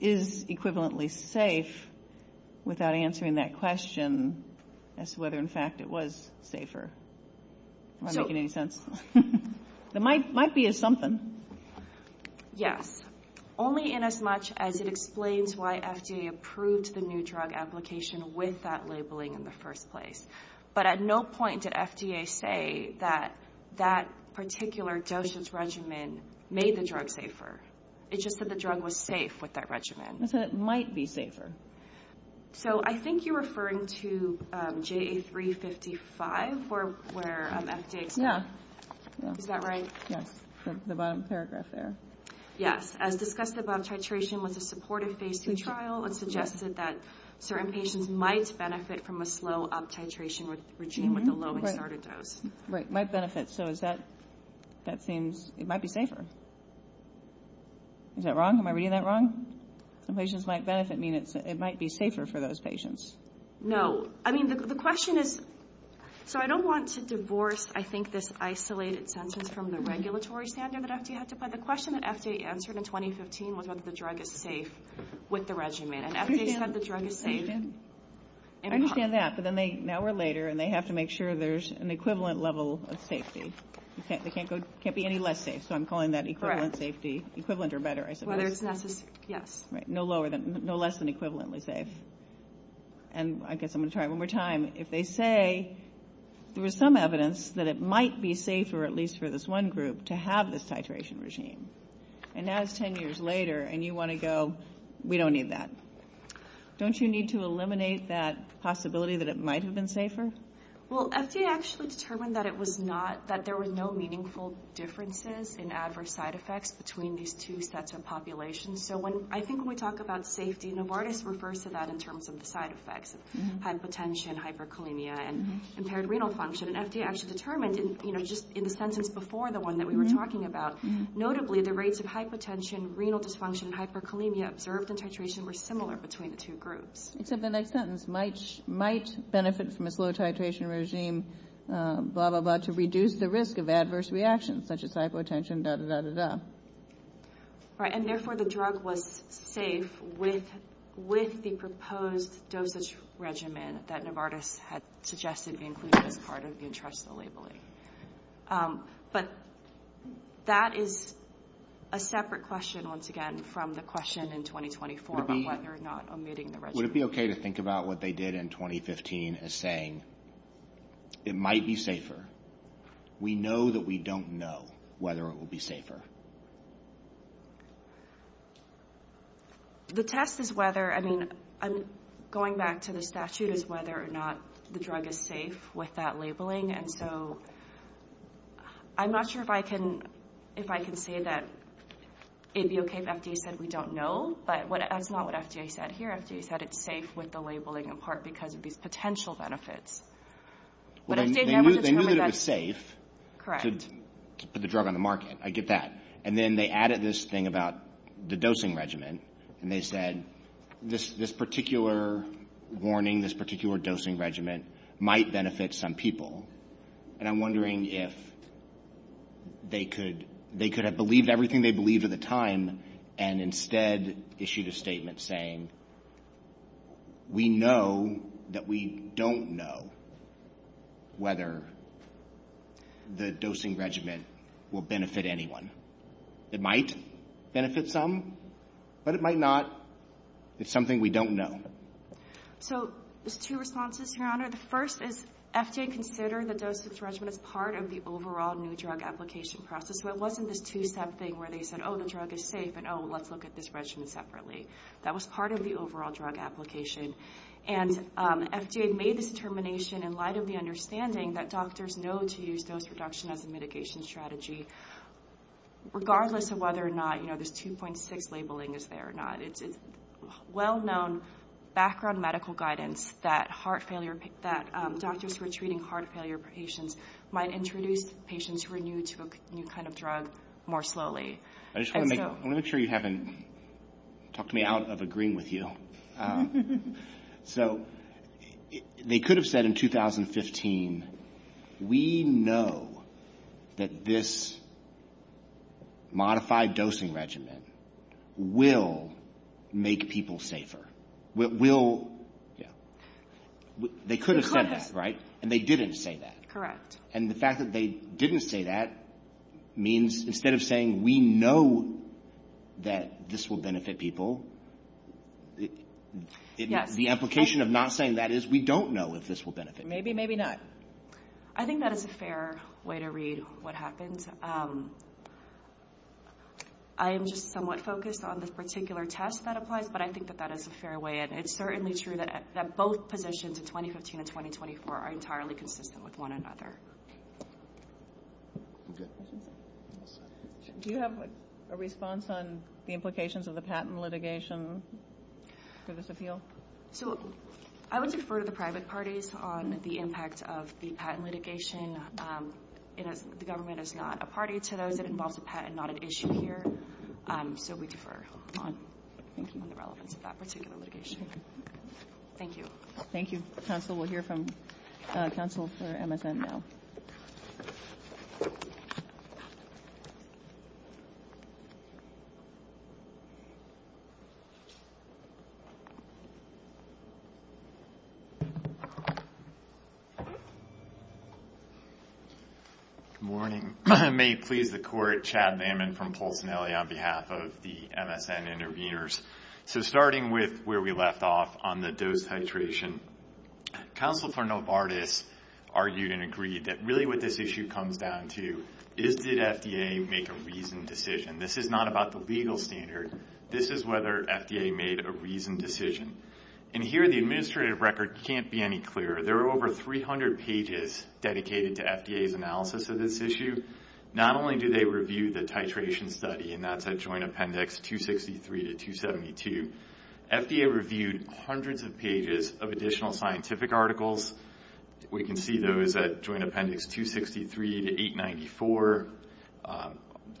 is equivalently safe without answering that question as to whether, in fact, it was safer. Am I making any sense? There might be a something. Yes. Only in as much as it explains why FDA approved the new drug application with that labeling in the first place. But at no point did FDA say that that particular dosage regimen made the drug safer. It just said the drug was safe with that regimen. It said it might be safer. So I think you're referring to JA355, where FDA... Yeah. Is that right? Yes. The bottom paragraph there. Yes. As discussed above, titration was a supportive phase 2 trial. It suggested that certain patients might benefit from a slow up-titration regime with a low starter dose. Right. Might benefit. So is that... That seems... It might be safer. Is that wrong? Am I reading that wrong? Some patients might benefit. It might be safer for those patients. No. I mean, the question is... So I don't want to divorce, I think, this isolated sentence from the regulatory standard that FDA had to apply. The question that FDA answered in 2015 was whether the drug is safe with the regimen. And FDA said the drug is safe in part. I understand that. But now or later, and they have to make sure there's an equivalent level of safety. It can't be any less safe. So I'm calling that equivalent safety. Equivalent or better, I suppose. Whether it's necessary. Yes. Right. No less than equivalently safe. And I guess I'm going to try it one more time. If they say there was some evidence that it might be safer, at least for this one group, to have this titration regime. And now it's 10 years later, and you want to go, we don't need that. Don't you need to eliminate that possibility that it might have been safer? Well, FDA actually determined that it was not... That there were no meaningful differences in adverse side effects between these two sets of populations. So when... I think when we talk about safety, Novartis refers to that in terms of the side effects. Hypotension, hyperkalemia, and impaired renal function. And FDA actually determined, just in the sentence before the one that we were talking about, notably the rates of hypotension, renal dysfunction, and hyperkalemia observed in titration were similar between the two groups. Except the next sentence, might benefit from a slow titration regime, blah, blah, blah, to reduce the risk of adverse reactions such as hypotension, da, da, da, da, da. Right. And therefore, the drug was safe with the proposed dosage regimen that Novartis had suggested be included as part of the interest of the labeling. But that is a separate question, once again, from the question in 2024 about whether or not omitting the regimen. Would it be okay to think about what they did in 2015 as saying, it might be safer, we know that we don't know whether it will be safer? The test is whether, I mean, going back to the statute is whether or not the drug is safe with that labeling. And so I'm not sure if I can say that it would be okay if FDA said we don't know. But that's not what FDA said here. FDA said it's safe with the labeling in part because of these potential benefits. They knew that it was safe to put the drug on the market. I get that. And then they added this thing about the dosing regimen. And they said this particular warning, this particular dosing regimen might benefit some people. And I'm wondering if they could have believed everything they believed at the time and instead issued a statement saying we know that we don't know whether the dosing regimen will benefit anyone. It might benefit some, but it might not. It's something we don't know. So there's two responses, Your Honor. The first is FDA considered the dosing regimen as part of the overall new drug application process. And so it wasn't this two-step thing where they said, oh, the drug is safe and, oh, let's look at this regimen separately. That was part of the overall drug application. And FDA made this determination in light of the understanding that doctors know to use dose reduction as a mitigation strategy, regardless of whether or not this 2.6 labeling is there or not. It's well-known background medical guidance that doctors who are treating heart failure patients might introduce patients who are new to a new kind of drug more slowly. I just want to make sure you haven't talked me out of agreeing with you. So they could have said in 2015, we know that this modified dosing regimen will make people safer. They could have said that, right? And they didn't say that. And the fact that they didn't say that means instead of saying we know that this will benefit people, the implication of not saying that is we don't know if this will benefit people. Maybe, maybe not. I think that is a fair way to read what happens. I am just somewhat focused on this particular test that applies, but I think that that is a fair way. And it's certainly true that both positions in 2015 and 2024 are entirely consistent with one another. Do you have a response on the implications of the patent litigation? Give us a feel. So I would defer to the private parties on the impact of the patent litigation. The government is not a party to those. It involves a patent, not an issue here. So we defer on the relevance of that particular litigation. Thank you. Thank you, counsel. We'll hear from counsel for MSN now. Good morning. May it please the court, Chad Lambin from Pulsinelli on behalf of the MSN intervenors. So starting with where we left off on the dose titration, counsel for Novartis argued and agreed that really what this issue comes down to is did FDA make a reasoned decision. This is not about the legal standard. This is whether FDA made a reasoned decision. And here the administrative record can't be any clearer. There are over 300 pages dedicated to FDA's analysis of this issue. Not only do they review the titration study, and that's at Joint Appendix 263 to 272, FDA reviewed hundreds of pages of additional scientific articles. We can see those at Joint Appendix 263 to 894,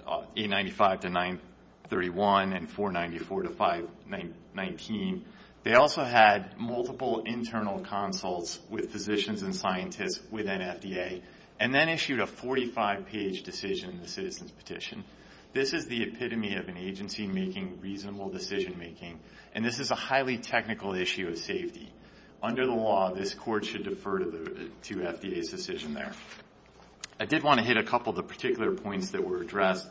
895 to 931, and 494 to 519. They also had multiple internal consults with physicians and scientists within FDA and then issued a 45-page decision in the citizen's petition. This is the epitome of an agency making reasonable decision-making, and this is a highly technical issue of safety. Under the law, this court should defer to FDA's decision there. I did want to hit a couple of the particular points that were addressed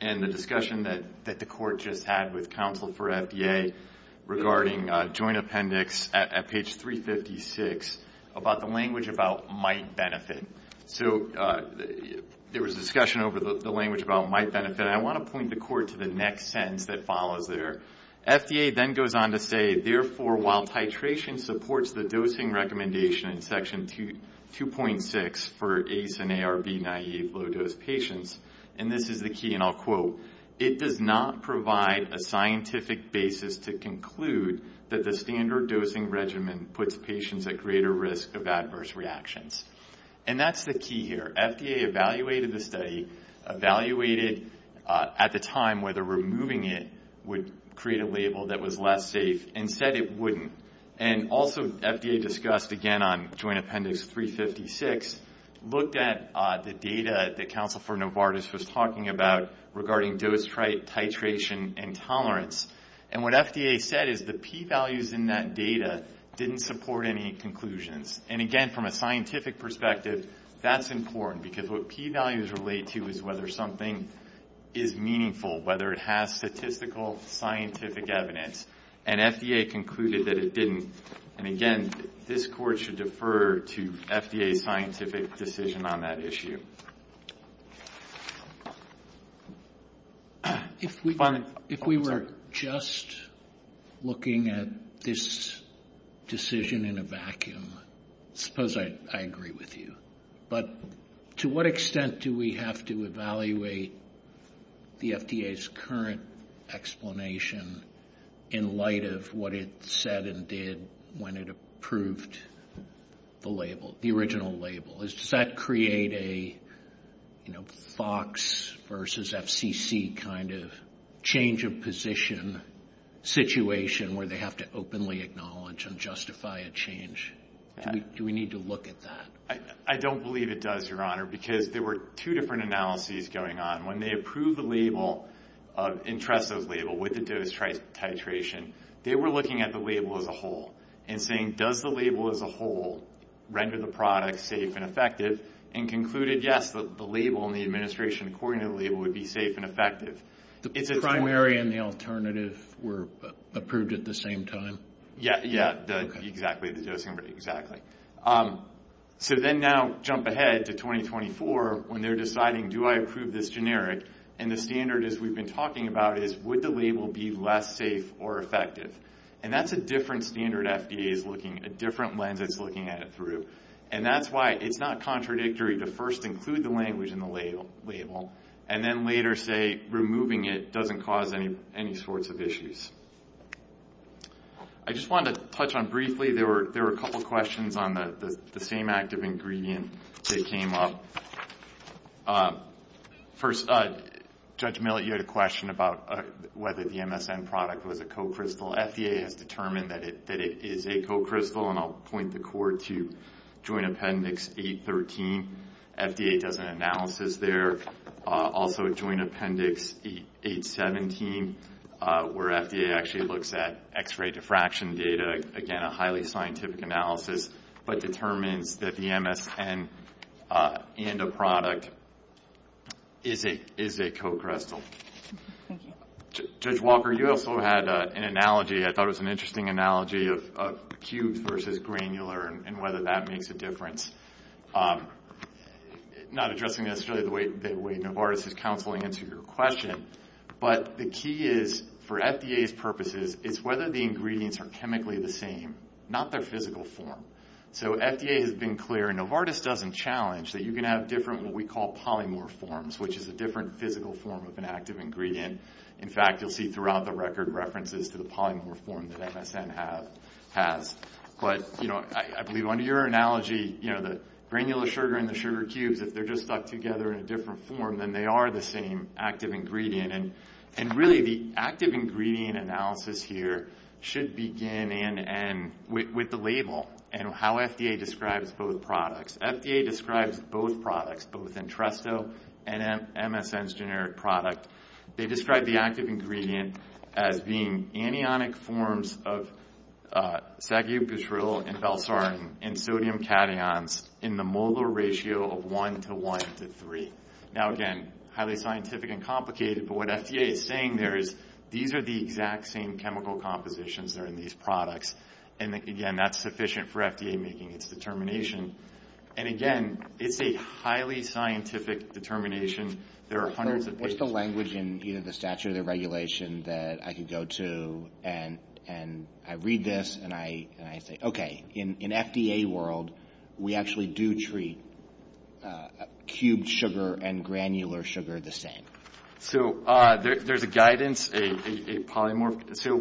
in the discussion that the court just had with counsel for FDA regarding Joint Appendix at page 356 about the language about might benefit. So there was a discussion over the language about might benefit, and I want to point the court to the next sentence that follows there. FDA then goes on to say, therefore, while titration supports the dosing recommendation in Section 2.6 for ACE and ARB-naive low-dose patients, and this is the key and I'll quote, it does not provide a scientific basis to conclude that the standard dosing regimen puts patients at greater risk of adverse reactions. And that's the key here. FDA evaluated the study, evaluated at the time whether removing it would create a label that was less safe, and said it wouldn't. And also FDA discussed again on Joint Appendix 356, looked at the data that counsel for Novartis was talking about regarding dose titration and tolerance, and what FDA said is the P values in that data didn't support any conclusions. And again, from a scientific perspective, that's important, because what P values relate to is whether something is meaningful, whether it has statistical scientific evidence, and FDA concluded that it didn't. And again, this Court should defer to FDA's scientific decision on that issue. If we were just looking at this decision in a vacuum, suppose I agree with you, but to what extent do we have to evaluate the FDA's current explanation in light of what it said and did when it approved the label, the original label? Does that create a Fox versus FCC kind of change of position situation where they have to openly acknowledge and justify a change? Do we need to look at that? I don't believe it does, Your Honor, because there were two different analyses going on. When they approved the label, entrusted the label with the dose titration, they were looking at the label as a whole and saying, does the label as a whole render the product safe and effective, and concluded, yes, the label and the administration according to the label would be safe and effective. The primary and the alternative were approved at the same time? Yeah, yeah, exactly, the dosing rate, exactly. So then now jump ahead to 2024 when they're deciding, do I approve this generic? And the standard is we've been talking about is, would the label be less safe or effective? And that's a different standard FDA is looking at, a different lens it's looking at it through. And that's why it's not contradictory to first include the language in the label and then later say removing it doesn't cause any sorts of issues. I just wanted to touch on briefly, there were a couple of questions on the same active ingredient that came up. First, Judge Millett, you had a question about whether the MSN product was a co-crystal. FDA has determined that it is a co-crystal, and I'll point the court to Joint Appendix 813. FDA does an analysis there. Also Joint Appendix 817 where FDA actually looks at X-ray diffraction data, again a highly scientific analysis, but determines that the MSN and a product is a co-crystal. Judge Walker, you also had an analogy, I thought it was an interesting analogy of cubes versus granular and whether that makes a difference. Not addressing necessarily the way Novartis is counseling into your question, but the key is for FDA's purposes, it's whether the ingredients are chemically the same, not their physical form. FDA has been clear, and Novartis doesn't challenge, that you can have different what we call polymer forms, which is a different physical form of an active ingredient. In fact, you'll see throughout the record references to the polymer form that MSN has. I believe under your analogy, the granular sugar and the sugar cubes, if they're just stuck together in a different form, then they are the same active ingredient. Really, the active ingredient analysis here should begin with the label and how FDA describes both products. FDA describes both products, both Entresto and MSN's generic product. They describe the active ingredient as being anionic forms of sagubitril and balsarin in sodium cations in the molar ratio of 1 to 1 to 3. Now again, highly scientific and complicated, but what FDA is saying there is these are the exact same chemical compositions that are in these products. Again, that's sufficient for FDA making its determination. Again, it's a highly scientific determination. There are hundreds of papers. What's the language in either the statute or the regulation that I can go to and I read this and I say, Okay, in FDA world, we actually do treat cubed sugar and granular sugar the same. So there's a guidance, a polymorph. So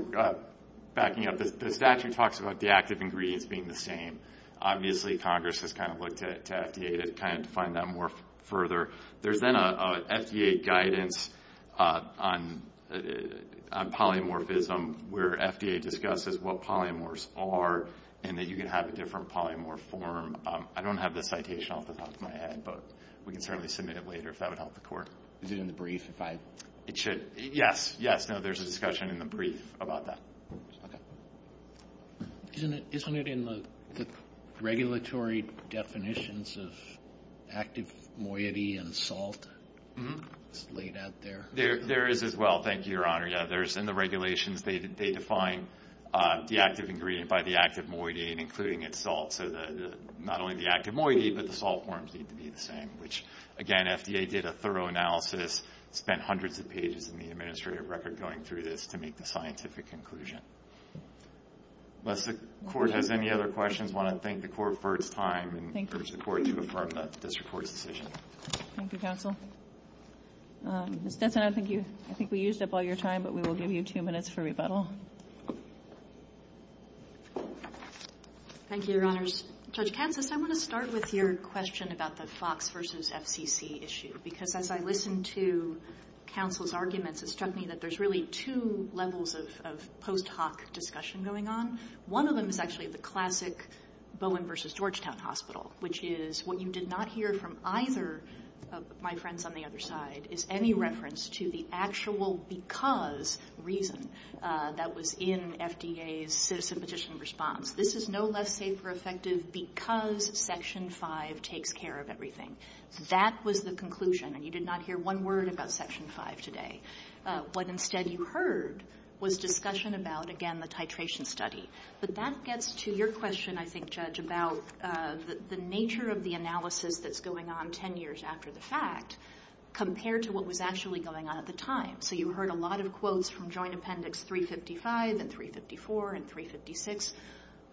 backing up, the statute talks about the active ingredients being the same. Obviously, Congress has kind of looked at FDA to kind of define that more further. There's then an FDA guidance on polymorphism where FDA discusses what polymorphs are and that you can have a different polymorph form. I don't have the citation off the top of my head, but we can certainly submit it later if that would help the court. Is it in the brief? It should. Yes, yes. No, there's a discussion in the brief about that. Isn't it in the regulatory definitions of active moiety and salt? It's laid out there. There is as well. Thank you, Your Honor. Yeah, in the regulations, they define the active ingredient by the active moiety and including its salt. So not only the active moiety, but the salt forms need to be the same, which, again, FDA did a thorough analysis, spent hundreds of pages in the administrative record going through this to make the scientific conclusion. Unless the court has any other questions, I want to thank the court for its time and urge the court to affirm the district court's decision. Thank you, counsel. Ms. Stetson, I think we used up all your time, but we will give you two minutes for rebuttal. Thank you, Your Honors. Judge Kansas, I want to start with your question about the Fox v. FCC issue because as I listened to counsel's arguments, it struck me that there's really two levels of post hoc discussion going on. One of them is actually the classic Bowen v. Georgetown Hospital, which is what you did not hear from either of my friends on the other side is any reference to the actual because reason that was in FDA's citizen petition response. This is no less safe or effective because Section 5 takes care of everything. That was the conclusion, and you did not hear one word about Section 5 today. What instead you heard was discussion about, again, the titration study. But that gets to your question, I think, Judge, about the nature of the analysis that's going on 10 years after the fact compared to what was actually going on at the time. So you heard a lot of quotes from Joint Appendix 355 and 354 and 356,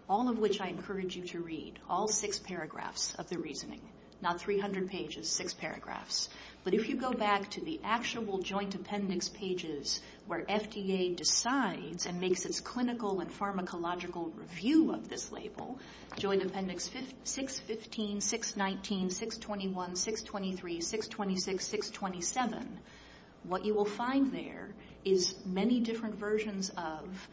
all of which I encourage you to read, all six paragraphs of the reasoning, not 300 pages, six paragraphs. But if you go back to the actual Joint Appendix pages where FDA decides and makes its clinical and pharmacological review of this label, Joint Appendix 615, 619, 621, 623, 626, 627, what you will find there is many different versions of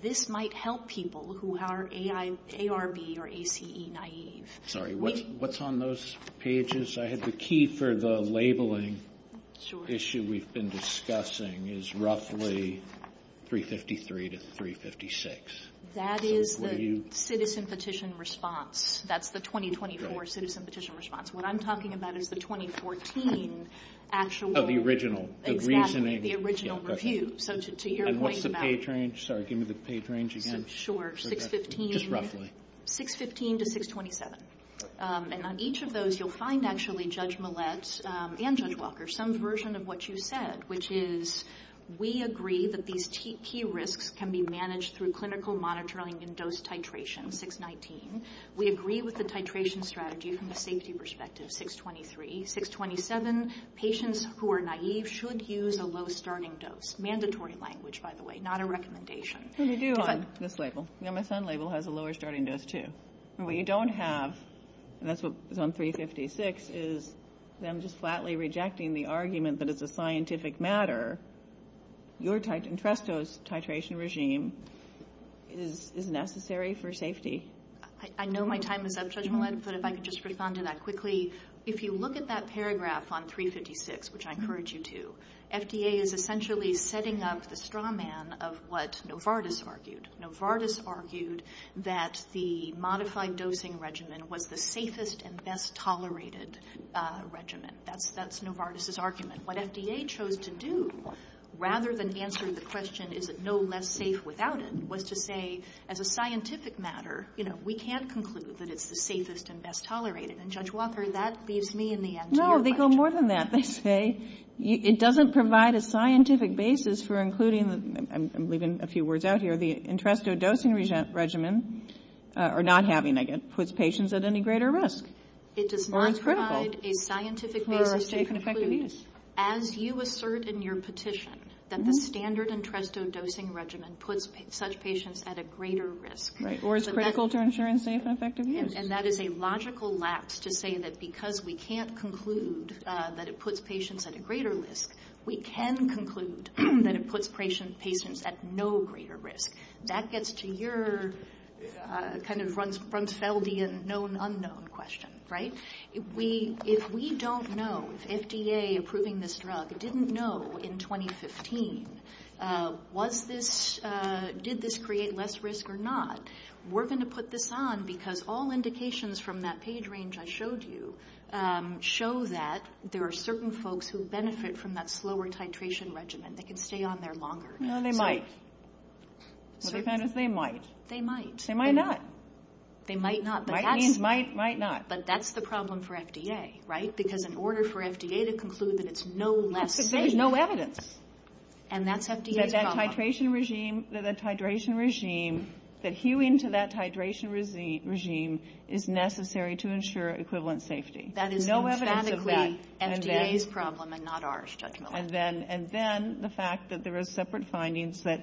this might help people who are ARB or ACE naive. Sorry, what's on those pages? I have the key for the labeling issue we've been discussing is roughly 353 to 356. That is the citizen petition response. That's the 2024 citizen petition response. What I'm talking about is the 2014 actual... Oh, the original, the reasoning. Exactly, the original review. And what's the page range? Sorry, give me the page range again. Sure, 615 to 627. And on each of those you'll find actually Judge Millett and Judge Walker some version of what you said, which is we agree that these key risks can be managed through clinical monitoring and dose titration, 619. We agree with the titration strategy from the safety perspective, 623. 627, patients who are naive should use a low starting dose. Mandatory language, by the way, not a recommendation. Well, you do on this label. My son's label has a lower starting dose, too. And what you don't have, and that's what was on 356, is them just flatly rejecting the argument that it's a scientific matter. Your interest dose titration regime is necessary for safety. I know my time is up, Judge Millett, but if I could just respond to that quickly. If you look at that paragraph on 356, which I encourage you to, FDA is essentially setting up the straw man of what Novartis argued. Novartis argued that the modified dosing regimen was the safest and best tolerated regimen. That's Novartis' argument. What FDA chose to do, rather than answer the question, is it no less safe without it, was to say, as a scientific matter, we can't conclude that it's the safest and best tolerated. And, Judge Walker, that leaves me in the end to your question. No, they go more than that. They say it doesn't provide a scientific basis for including the, I'm leaving a few words out here, the entresto dosing regimen, or not having it, puts patients at any greater risk. It does not provide a scientific basis to conclude, as you assert in your petition, that the standard entresto dosing regimen puts such patients at a greater risk. Right, or it's critical to ensuring safe and effective use. And that is a logical lapse to say that because we can't conclude that it puts patients at a greater risk, we can conclude that it puts patients at no greater risk. That gets to your kind of Brunsfeldian known unknown question, right? If we don't know, if FDA approving this drug didn't know in 2015, did this create less risk or not, we're going to put this on because all indications from that page range I showed you show that there are certain folks who benefit from that slower titration regimen. They can stay on there longer. No, they might. They might. They might. They might not. They might not. Might means might, might not. But that's the problem for FDA, right? Because in order for FDA to conclude that it's no less safe. Because there's no evidence. And that's FDA's problem. That that titration regime, that that titration regime, that hewing to that titration regime is necessary to ensure equivalent safety. That is emphatically FDA's problem and not ours, Judge Millett. And then the fact that there are separate findings that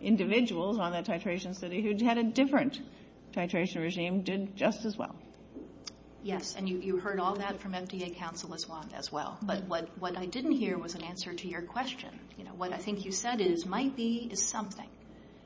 individuals on that titration study who had a different titration regime did just as well. Yes. And you heard all that from FDA counsel as well. But what I didn't hear was an answer to your question. What I think you said is might be is something.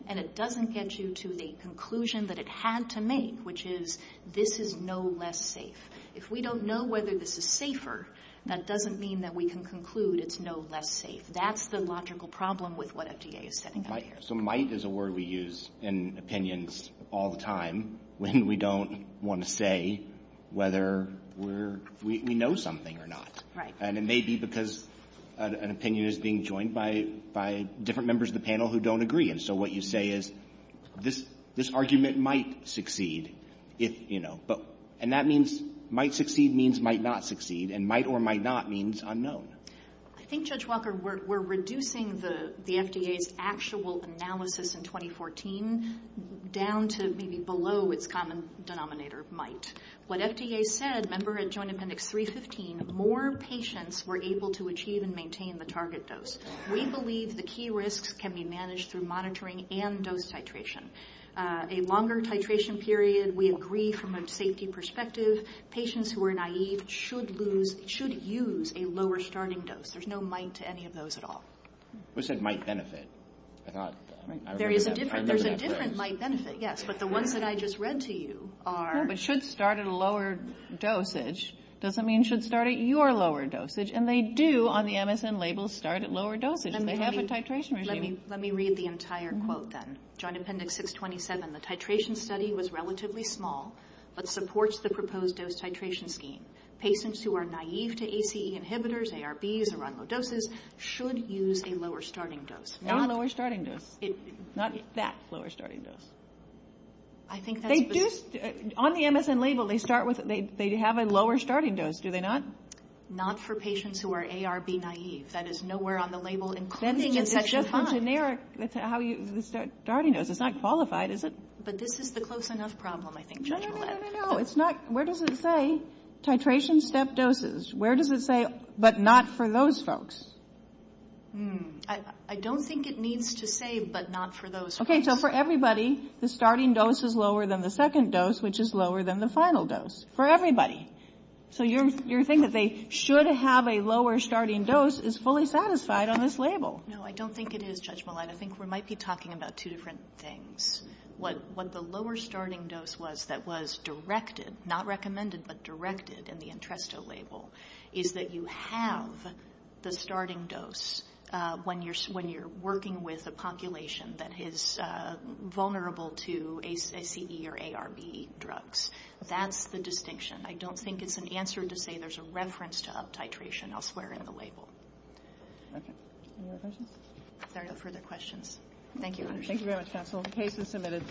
And it doesn't get you to the conclusion that it had to make, which is this is no less safe. If we don't know whether this is safer, that doesn't mean that we can conclude it's no less safe. That's the logical problem with what FDA is setting up here. So might is a word we use in opinions all the time when we don't want to say whether we know something or not. Right. And it may be because an opinion is being joined by different members of the panel who don't agree. And so what you say is this argument might succeed if, you know. And that means might succeed means might not succeed. And might or might not means unknown. I think, Judge Walker, we're reducing the FDA's actual analysis in 2014 down to maybe below its common denominator, might. What FDA said, remember at Joint Appendix 315, more patients were able to achieve and maintain the target dose. We believe the key risks can be managed through monitoring and dose titration. A longer titration period, we agree from a safety perspective. Patients who are naive should use a lower starting dose. There's no might to any of those at all. You said might benefit. There's a different might benefit, yes. But the ones that I just read to you are. But should start at a lower dosage doesn't mean should start at your lower dosage. And they do on the MSN label start at lower dosage. They have a titration regime. Let me read the entire quote then. Joint Appendix 627, the titration study was relatively small but supports the proposed dose titration scheme. Patients who are naive to ACE inhibitors, ARBs, or on low doses should use a lower starting dose. Not a lower starting dose. Not that lower starting dose. On the MSN label, they have a lower starting dose. Do they not? Not for patients who are ARB naive. That is nowhere on the label, including in Section 5. That's generic, the starting dose. It's not qualified, is it? But this is the close enough problem, I think, Judge Millett. No, no, no, no, no, no. It's not. Where does it say titration step doses? Where does it say but not for those folks? I don't think it needs to say but not for those folks. Okay, so for everybody, the starting dose is lower than the second dose, which is lower than the final dose. For everybody. So you're thinking that they should have a lower starting dose is fully satisfied on this label. No, I don't think it is, Judge Millett. I think we might be talking about two different things. What the lower starting dose was that was directed, not recommended but directed in the Entresto label, is that you have the starting dose when you're working with a population that is vulnerable to ACE or ARB drugs. That's the distinction. I don't think it's an answer to say there's a reference to up titration elsewhere in the label. Okay. Any other questions? There are no further questions. Thank you. Thank you very much, counsel. The case is submitted.